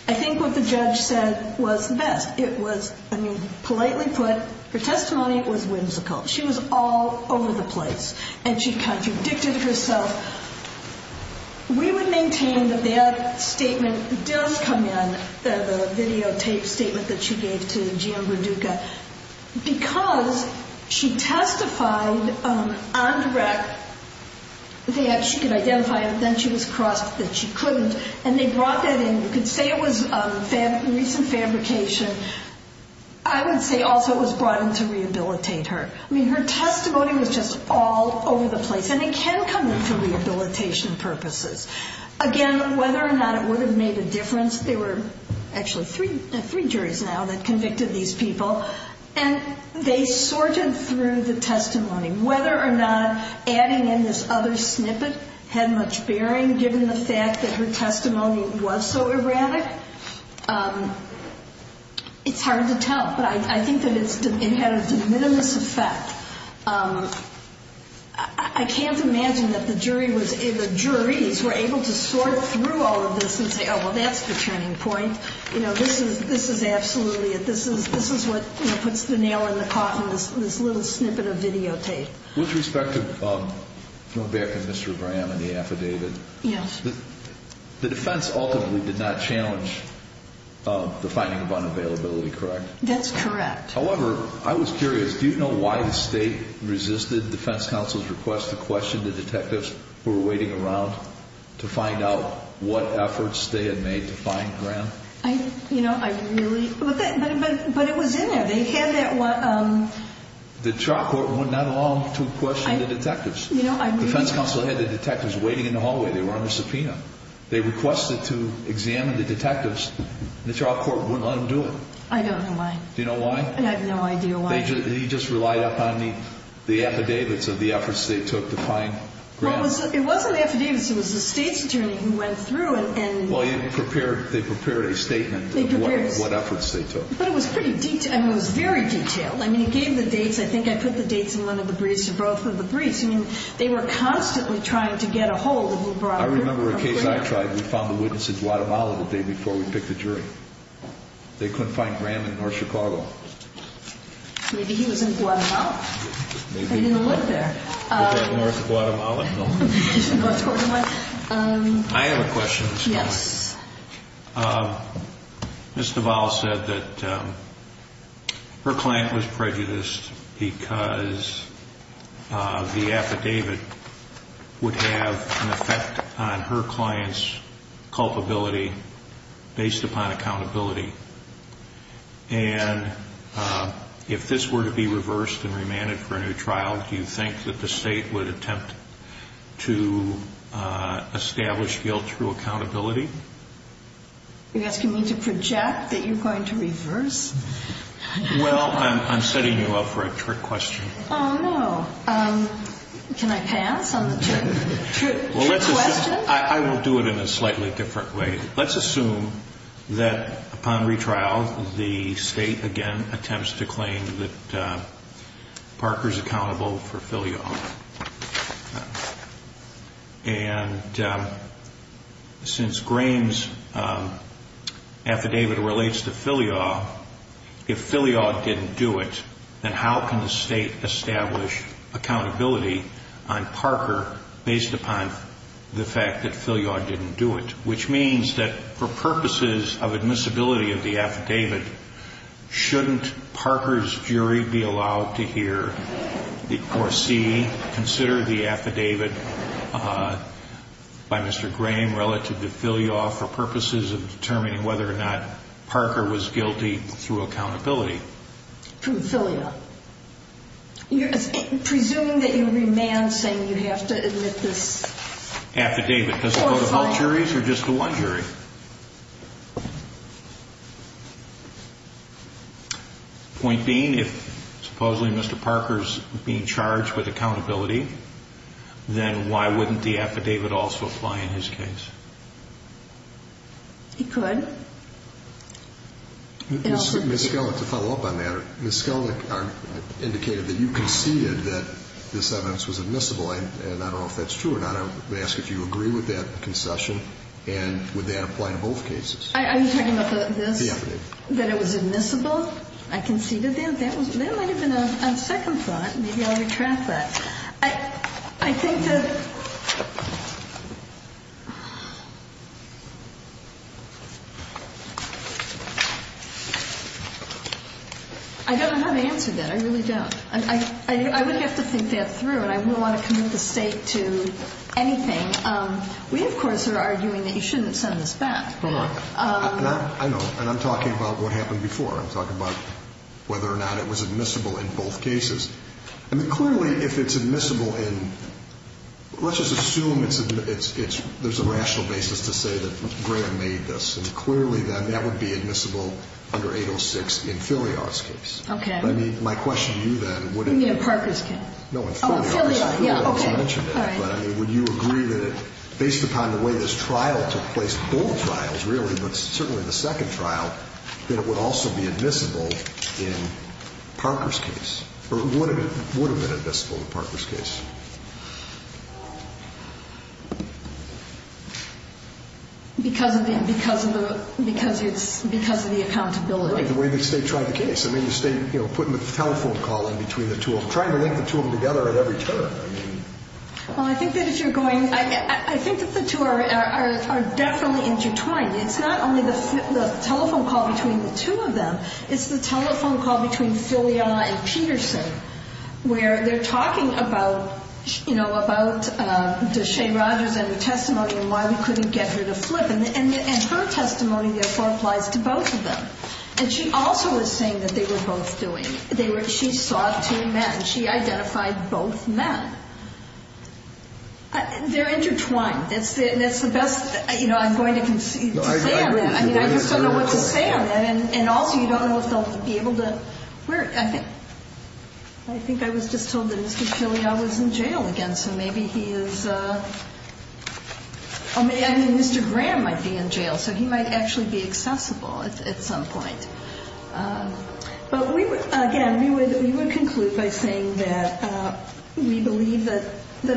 I think what the judge said was the best. It was – I mean, politely put, her testimony was whimsical. She was all over the place. And she contradicted herself. We would maintain that that statement does come in, the videotape statement that she gave to Jim Verduca, because she testified on direct that she could identify it, but then she was crossed that she couldn't. And they brought that in. You could say it was recent fabrication. I would say also it was brought in to rehabilitate her. I mean, her testimony was just all over the place. And it can come in for rehabilitation purposes. Again, whether or not it would have made a difference, there were actually three juries now that convicted these people, and they sorted through the testimony. Whether or not adding in this other snippet had much bearing, given the fact that her testimony was so erratic, it's hard to tell. But I think that it had a de minimis effect. I can't imagine that the jury was – the juries were able to sort through all of this and say, oh, well, that's the turning point. You know, this is absolutely – this is what puts the nail in the cotton, this little snippet of videotape. With respect to – going back to Mr. Graham and the affidavit. Yes. The defense ultimately did not challenge the finding of unavailability, correct? That's correct. However, I was curious. Do you know why the state resisted defense counsel's request to question the detectives who were waiting around to find out what efforts they had made to find Graham? I – you know, I really – but it was in there. They had that – The trial court would not allow them to question the detectives. You know, I really – Defense counsel had the detectives waiting in the hallway. They were under subpoena. They requested to examine the detectives. The trial court wouldn't let them do it. I don't know why. Do you know why? I have no idea why. They just relied upon the affidavits of the efforts they took to find Graham. Well, it wasn't the affidavits. It was the state's attorney who went through and – Well, they prepared a statement of what efforts they took. But it was pretty – I mean, it was very detailed. I mean, he gave the dates. I think I put the dates in one of the briefs or both of the briefs. I mean, they were constantly trying to get a hold of the broader – I remember a case I tried. We found the witness in Guatemala the day before we picked the jury. They couldn't find Graham in North Chicago. Maybe he was in Guatemala. Maybe he was. But he didn't live there. Put that North Guatemala thing. North Guatemala. I have a question. Yes. Ms. Duval said that her client was prejudiced because the affidavit would have an effect on her client's culpability based upon accountability. And if this were to be reversed and remanded for a new trial, do you think that the state would attempt to establish guilt through accountability? You're asking me to project that you're going to reverse? Well, I'm setting you up for a trick question. Can I pass on the trick question? I will do it in a slightly different way. Let's assume that upon retrial, the state, again, attempts to claim that Parker's accountable for filial. And since Graham's affidavit relates to filial, if filial didn't do it, then how can the state establish accountability on Parker based upon the fact that filial didn't do it? Which means that for purposes of admissibility of the affidavit, shouldn't Parker's jury be allowed to hear or see, consider the affidavit by Mr. Graham relative to filial for purposes of determining whether or not Parker was guilty through accountability? Through filial. Presuming that you remand saying you have to admit this... Affidavit. Does it go to both juries or just to one jury? Point being, if supposedly Mr. Parker's being charged with accountability, then why wouldn't the affidavit also apply in his case? It could. Ms. Skellick, to follow up on that, Ms. Skellick indicated that you conceded that this evidence was admissible, and I don't know if that's true or not. I would ask if you agree with that concession, and would that apply to both cases? Are you talking about this? The affidavit. That it was admissible? I conceded that? That might have been a second thought. Maybe I'll retract that. I think that... I don't know how to answer that. I really don't. I would have to think that through, and I wouldn't want to commit the State to anything. We, of course, are arguing that you shouldn't send this back. Hold on. I know, and I'm talking about what happened before. I'm talking about whether or not it was admissible in both cases. I mean, clearly, if it's admissible in... Let's just assume it's... There's a rational basis to say that Graham made this, and clearly, then, that would be admissible under 806 in Filiard's case. Okay. My question to you, then, would it... You mean in Parker's case? No, in Filiard's case. Oh, in Filiard, yeah, okay. Would you agree that based upon the way this trial took place, both trials, really, but certainly the second trial, that it would also be admissible in Parker's case, or would have been admissible in Parker's case? Because of the... Because of the... Because it's... Because of the accountability. The way the State tried the case. I mean, the State, you know, putting the telephone call in between the two of them, trying to link the two of them together at every turn. I mean... Well, I think that if you're going... I think that the two are definitely intertwined. It's not only the telephone call between the two of them. It's the telephone call between Filiard and Peterson, where they're talking about, you know, about Deshae Rogers and her testimony and why we couldn't get her to flip. And her testimony, therefore, applies to both of them. And she also was saying that they were both doing... She saw two men. She identified both men. They're intertwined. That's the best, you know, I'm going to say on that. I mean, I just don't know what to say on that. And also, you don't know if they'll be able to... I think I was just told that Mr. Filiard was in jail again, so maybe he is... I mean, Mr. Graham might be in jail, so he might actually be accessible at some point. But, again, we would conclude by saying that we believe that the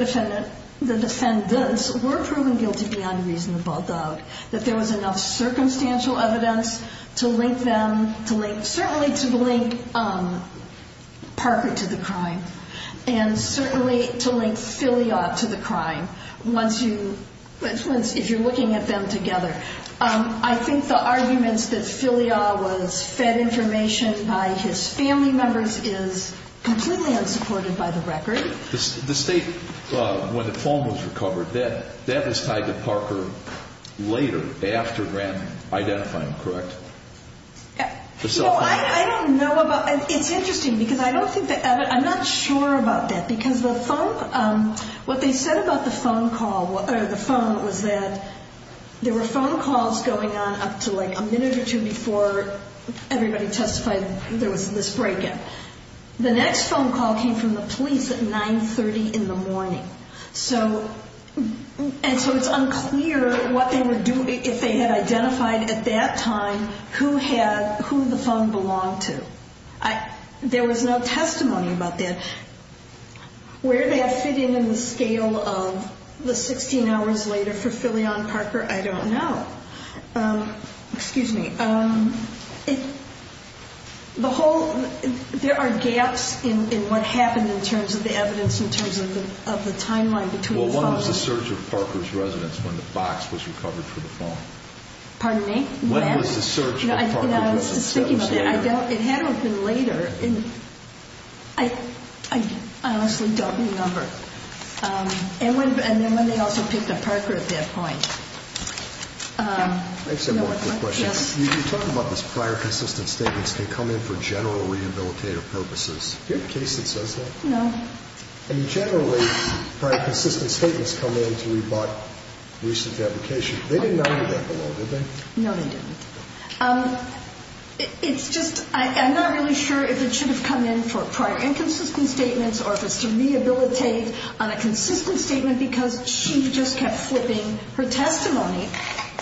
defendants were proven guilty beyond reasonable doubt, that there was enough circumstantial evidence to link them, certainly to link Parker to the crime, and certainly to link Filiard to the crime, if you're looking at them together. I think the arguments that Filiard was fed information by his family members is completely unsupported by the record. The state, when the phone was recovered, that was tied to Parker later, after Graham identified him, correct? No, I don't know about... It's interesting, because I don't think that... I'm not sure about that, because the phone... What they said about the phone call, or the phone, was that there were phone calls going on up to, like, a minute or two before everybody testified there was this break-in. The next phone call came from the police at 9.30 in the morning. And so it's unclear what they would do if they had identified, at that time, who the phone belonged to. There was no testimony about that. Where that fit in in the scale of the 16 hours later for Filiard and Parker, I don't know. Excuse me. The whole... There are gaps in what happened in terms of the evidence, in terms of the timeline between the phone calls. Well, one was the search of Parker's residence when the box was recovered for the phone. Pardon me? When was the search of Parker's residence? I was just thinking about that. It had to have been later. I honestly don't remember. And then when they also picked up Parker at that point. I just have one quick question. Yes. You talk about this prior consistent statements that come in for general rehabilitative purposes. Do you have a case that says that? No. Generally, prior consistent statements come in to rebut recent fabrication. They did not do that below, did they? No, they didn't. It's just I'm not really sure if it should have come in for prior inconsistent statements or if it's to rehabilitate on a consistent statement because she just kept flipping her testimony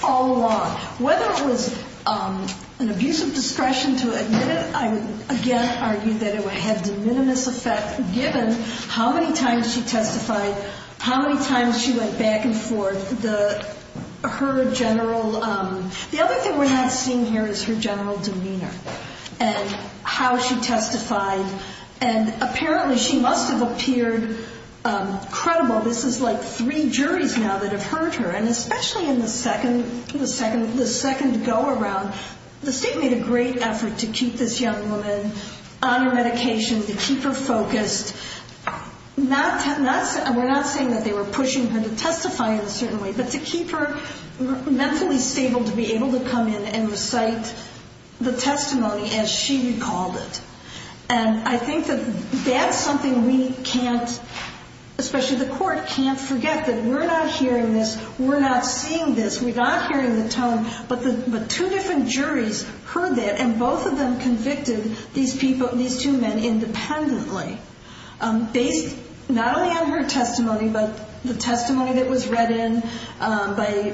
all along. Whether it was an abuse of discretion to admit it, I would again argue that it would have de minimis effect given how many times she testified, how many times she went back and forth. The other thing we're not seeing here is her general demeanor and how she testified. And apparently she must have appeared credible. This is like three juries now that have heard her. And especially in the second go around, the state made a great effort to keep this young woman on her medication, to keep her focused. We're not saying that they were pushing her to testify in a certain way, but to keep her mentally stable to be able to come in and recite the testimony as she recalled it. And I think that that's something we can't, especially the court can't forget that we're not hearing this, we're not seeing this, we're not hearing the tone, but two different juries heard that, and both of them convicted these two men independently, based not only on her testimony, but the testimony that was read in by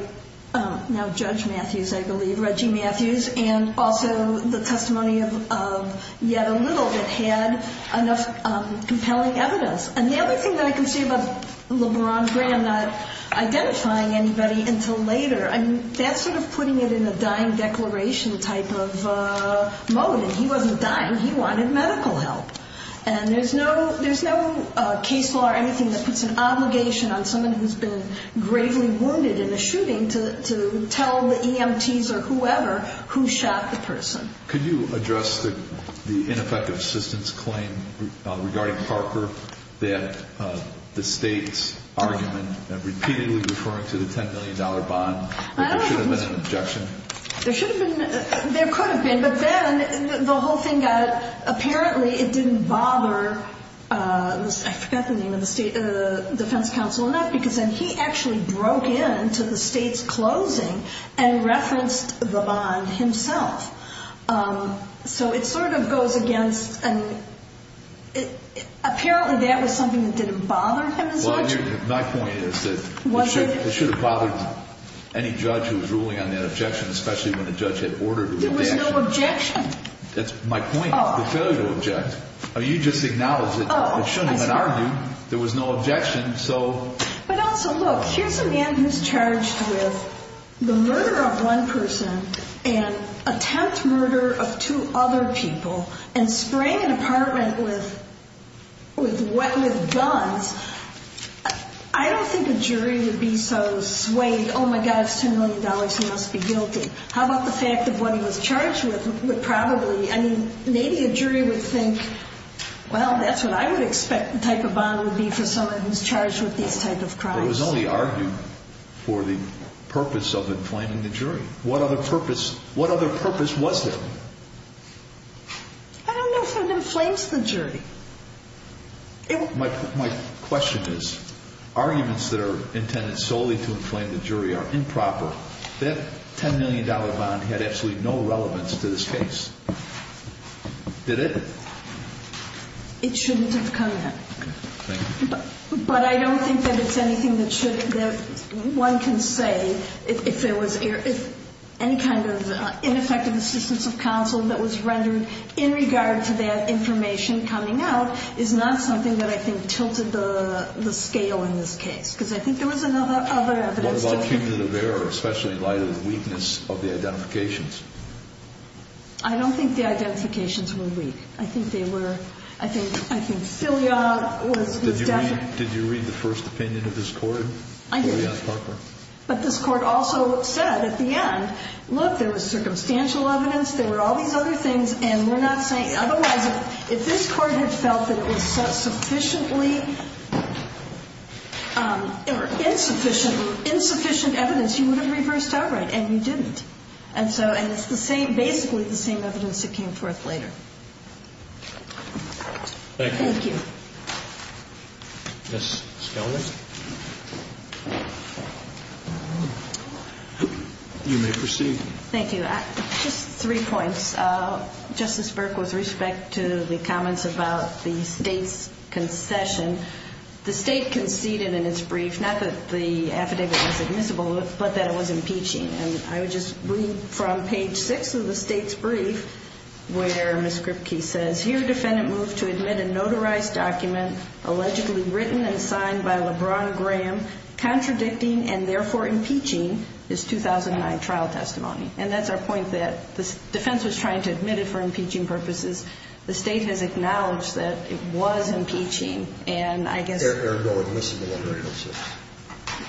now Judge Matthews, I believe, Reggie Matthews, and also the testimony of yet a little that had enough compelling evidence. And the other thing that I can say about LeBron Graham not identifying anybody until later, that's sort of putting it in a dying declaration type of mode, and he wasn't dying, he wanted medical help. And there's no case law or anything that puts an obligation on someone who's been gravely wounded in a shooting to tell the EMTs or whoever who shot the person. Could you address the ineffective assistance claim regarding Harper that the state's argument, that repeatedly referring to the $10 million bond, there should have been an objection? There should have been, there could have been, but then the whole thing got, apparently it didn't bother, I forgot the name of the defense counsel, and that's because then he actually broke in to the state's closing and referenced the bond himself. So it sort of goes against, and apparently that was something that didn't bother him as much. My point is that it should have bothered any judge who was ruling on that objection, especially when a judge had ordered it. There was no objection. That's my point, the failure to object. You just acknowledged that it shouldn't have been argued. There was no objection, so. But also, look, here's a man who's charged with the murder of one person and attempt murder of two other people and spraying an apartment with guns. I don't think a jury would be so swayed, oh, my God, it's $10 million, he must be guilty. How about the fact that what he was charged with would probably, I mean, maybe a jury would think, well, that's what I would expect the type of bond would be for someone who's charged with these type of crimes. It was only argued for the purpose of inflaming the jury. What other purpose was there? I don't know if it inflames the jury. My question is, arguments that are intended solely to inflame the jury are improper. That $10 million bond had absolutely no relevance to this case. Did it? It shouldn't have come in. But I don't think that it's anything that one can say if there was any kind of ineffective assistance of counsel that was rendered in regard to that information coming out is not something that I think tilted the scale in this case because I think there was other evidence. What about human error, especially in light of the weakness of the identifications? I don't think the identifications were weak. I think they were. I think filial was definite. Did you read the first opinion of this court? I did. But this court also said at the end, look, there was circumstantial evidence, there were all these other things, and we're not saying otherwise. If this court had felt that it was sufficiently or insufficient, insufficient evidence, you would have reversed outright, and you didn't. And so, and it's the same, basically the same evidence that came forth later. Thank you. Ms. Spellman. You may proceed. Thank you. Just three points. Justice Burke, with respect to the comments about the State's concession, the State conceded in its brief, not that the affidavit was admissible, but that it was impeaching. And I would just read from page 6 of the State's brief where Ms. Kripke says, Here, defendant moved to admit a notarized document allegedly written and signed by LeBron Graham, contradicting and therefore impeaching his 2009 trial testimony. And that's our point, that the defense was trying to admit it for impeaching purposes. The State has acknowledged that it was impeaching, and I guess... There are no admissible evidence.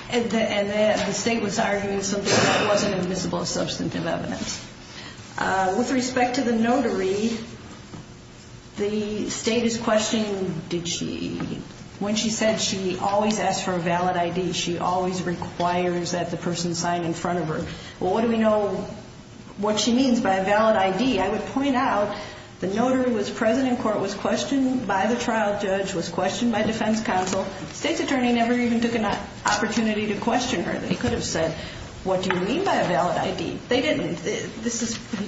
And the State was arguing something that wasn't admissible substantive evidence. With respect to the notary, the State is questioning... When she said she always asks for a valid ID, she always requires that the person sign in front of her. Well, what do we know what she means by a valid ID? I would point out, the notary was present in court, was questioned by the trial judge, was questioned by defense counsel. The State's attorney never even took an opportunity to question her. They could have said, What do you mean by a valid ID? They didn't.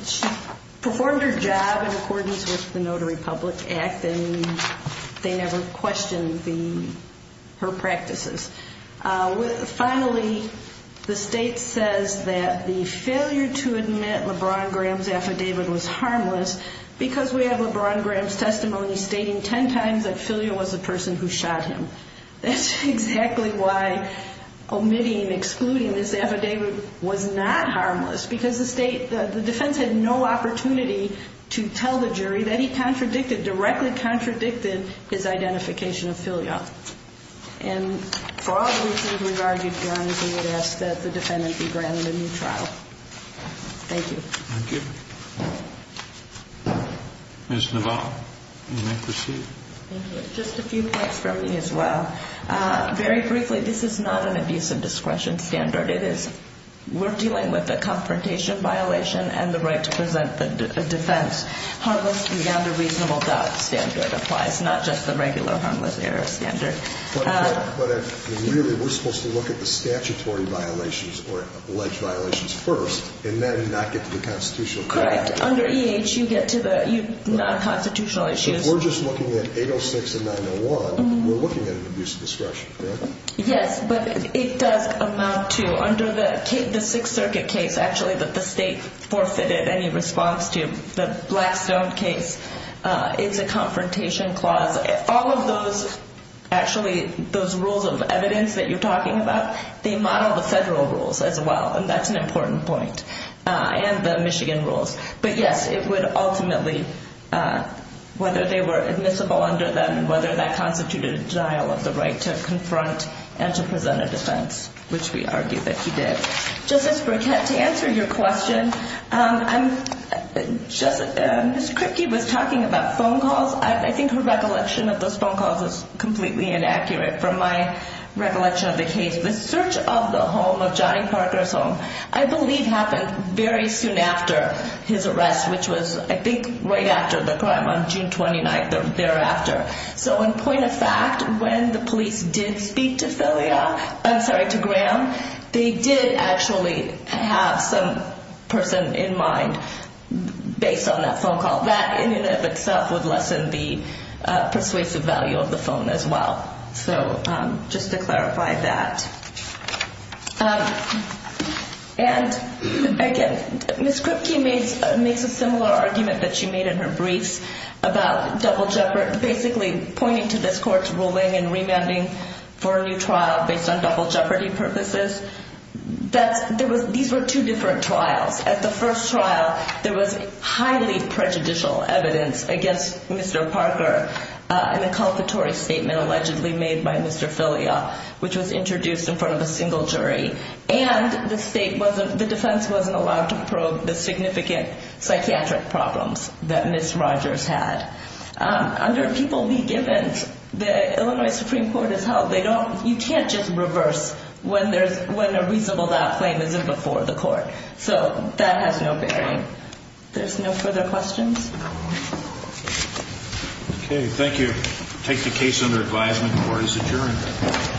She performed her job in accordance with the Notary Public Act, and they never questioned her practices. Finally, the State says that the failure to admit LeBron Graham's affidavit was harmless because we have LeBron Graham's testimony stating 10 times that Filio was the person who shot him. That's exactly why omitting, excluding this affidavit was not harmless because the defense had no opportunity to tell the jury that he directly contradicted his identification of Filio. And for all the reasons we've argued, we would ask that the defendant be granted a new trial. Thank you. Thank you. Ms. Navarro, you may proceed. Thank you. Just a few points from me as well. Very briefly, this is not an abuse of discretion standard. We're dealing with a confrontation violation and the right to present a defense. Harmless beyond a reasonable doubt standard applies, not just the regular harmless error standard. But really, we're supposed to look at the statutory violations or alleged violations first and then not get to the constitutional context. Correct. Under EH, you get to the non-constitutional issues. We're just looking at 806 and 901. We're looking at an abuse of discretion, correct? Yes, but it does amount to under the Sixth Circuit case, actually, that the state forfeited any response to, the Blackstone case is a confrontation clause. All of those, actually, those rules of evidence that you're talking about, they model the federal rules as well, and that's an important point, and the Michigan rules. But, yes, it would ultimately, whether they were admissible under them and whether that constituted a denial of the right to confront and to present a defense, which we argue that he did. Justice Burkett, to answer your question, Ms. Kripke was talking about phone calls. I think her recollection of those phone calls is completely inaccurate from my recollection of the case. The search of the home, of Johnny Parker's home, I believe happened very soon after his arrest, which was, I think, right after the crime on June 29th, thereafter. So, in point of fact, when the police did speak to Graham, they did actually have some person in mind, based on that phone call. That, in and of itself, would lessen the persuasive value of the phone as well. So, just to clarify that. And, again, Ms. Kripke makes a similar argument that she made in her briefs about double jeopardy. So, basically, pointing to this court's ruling and remanding for a new trial based on double jeopardy purposes, these were two different trials. At the first trial, there was highly prejudicial evidence against Mr. Parker, an inculpatory statement allegedly made by Mr. Filia, which was introduced in front of a single jury, and the defense wasn't allowed to probe the significant psychiatric problems that Ms. Rogers had. Under a people-be-givens, the Illinois Supreme Court is held. You can't just reverse when a reasonable doubt claim isn't before the court. So, that has no bearing. There's no further questions? Okay, thank you. I take the case under advisement. Court is adjourned.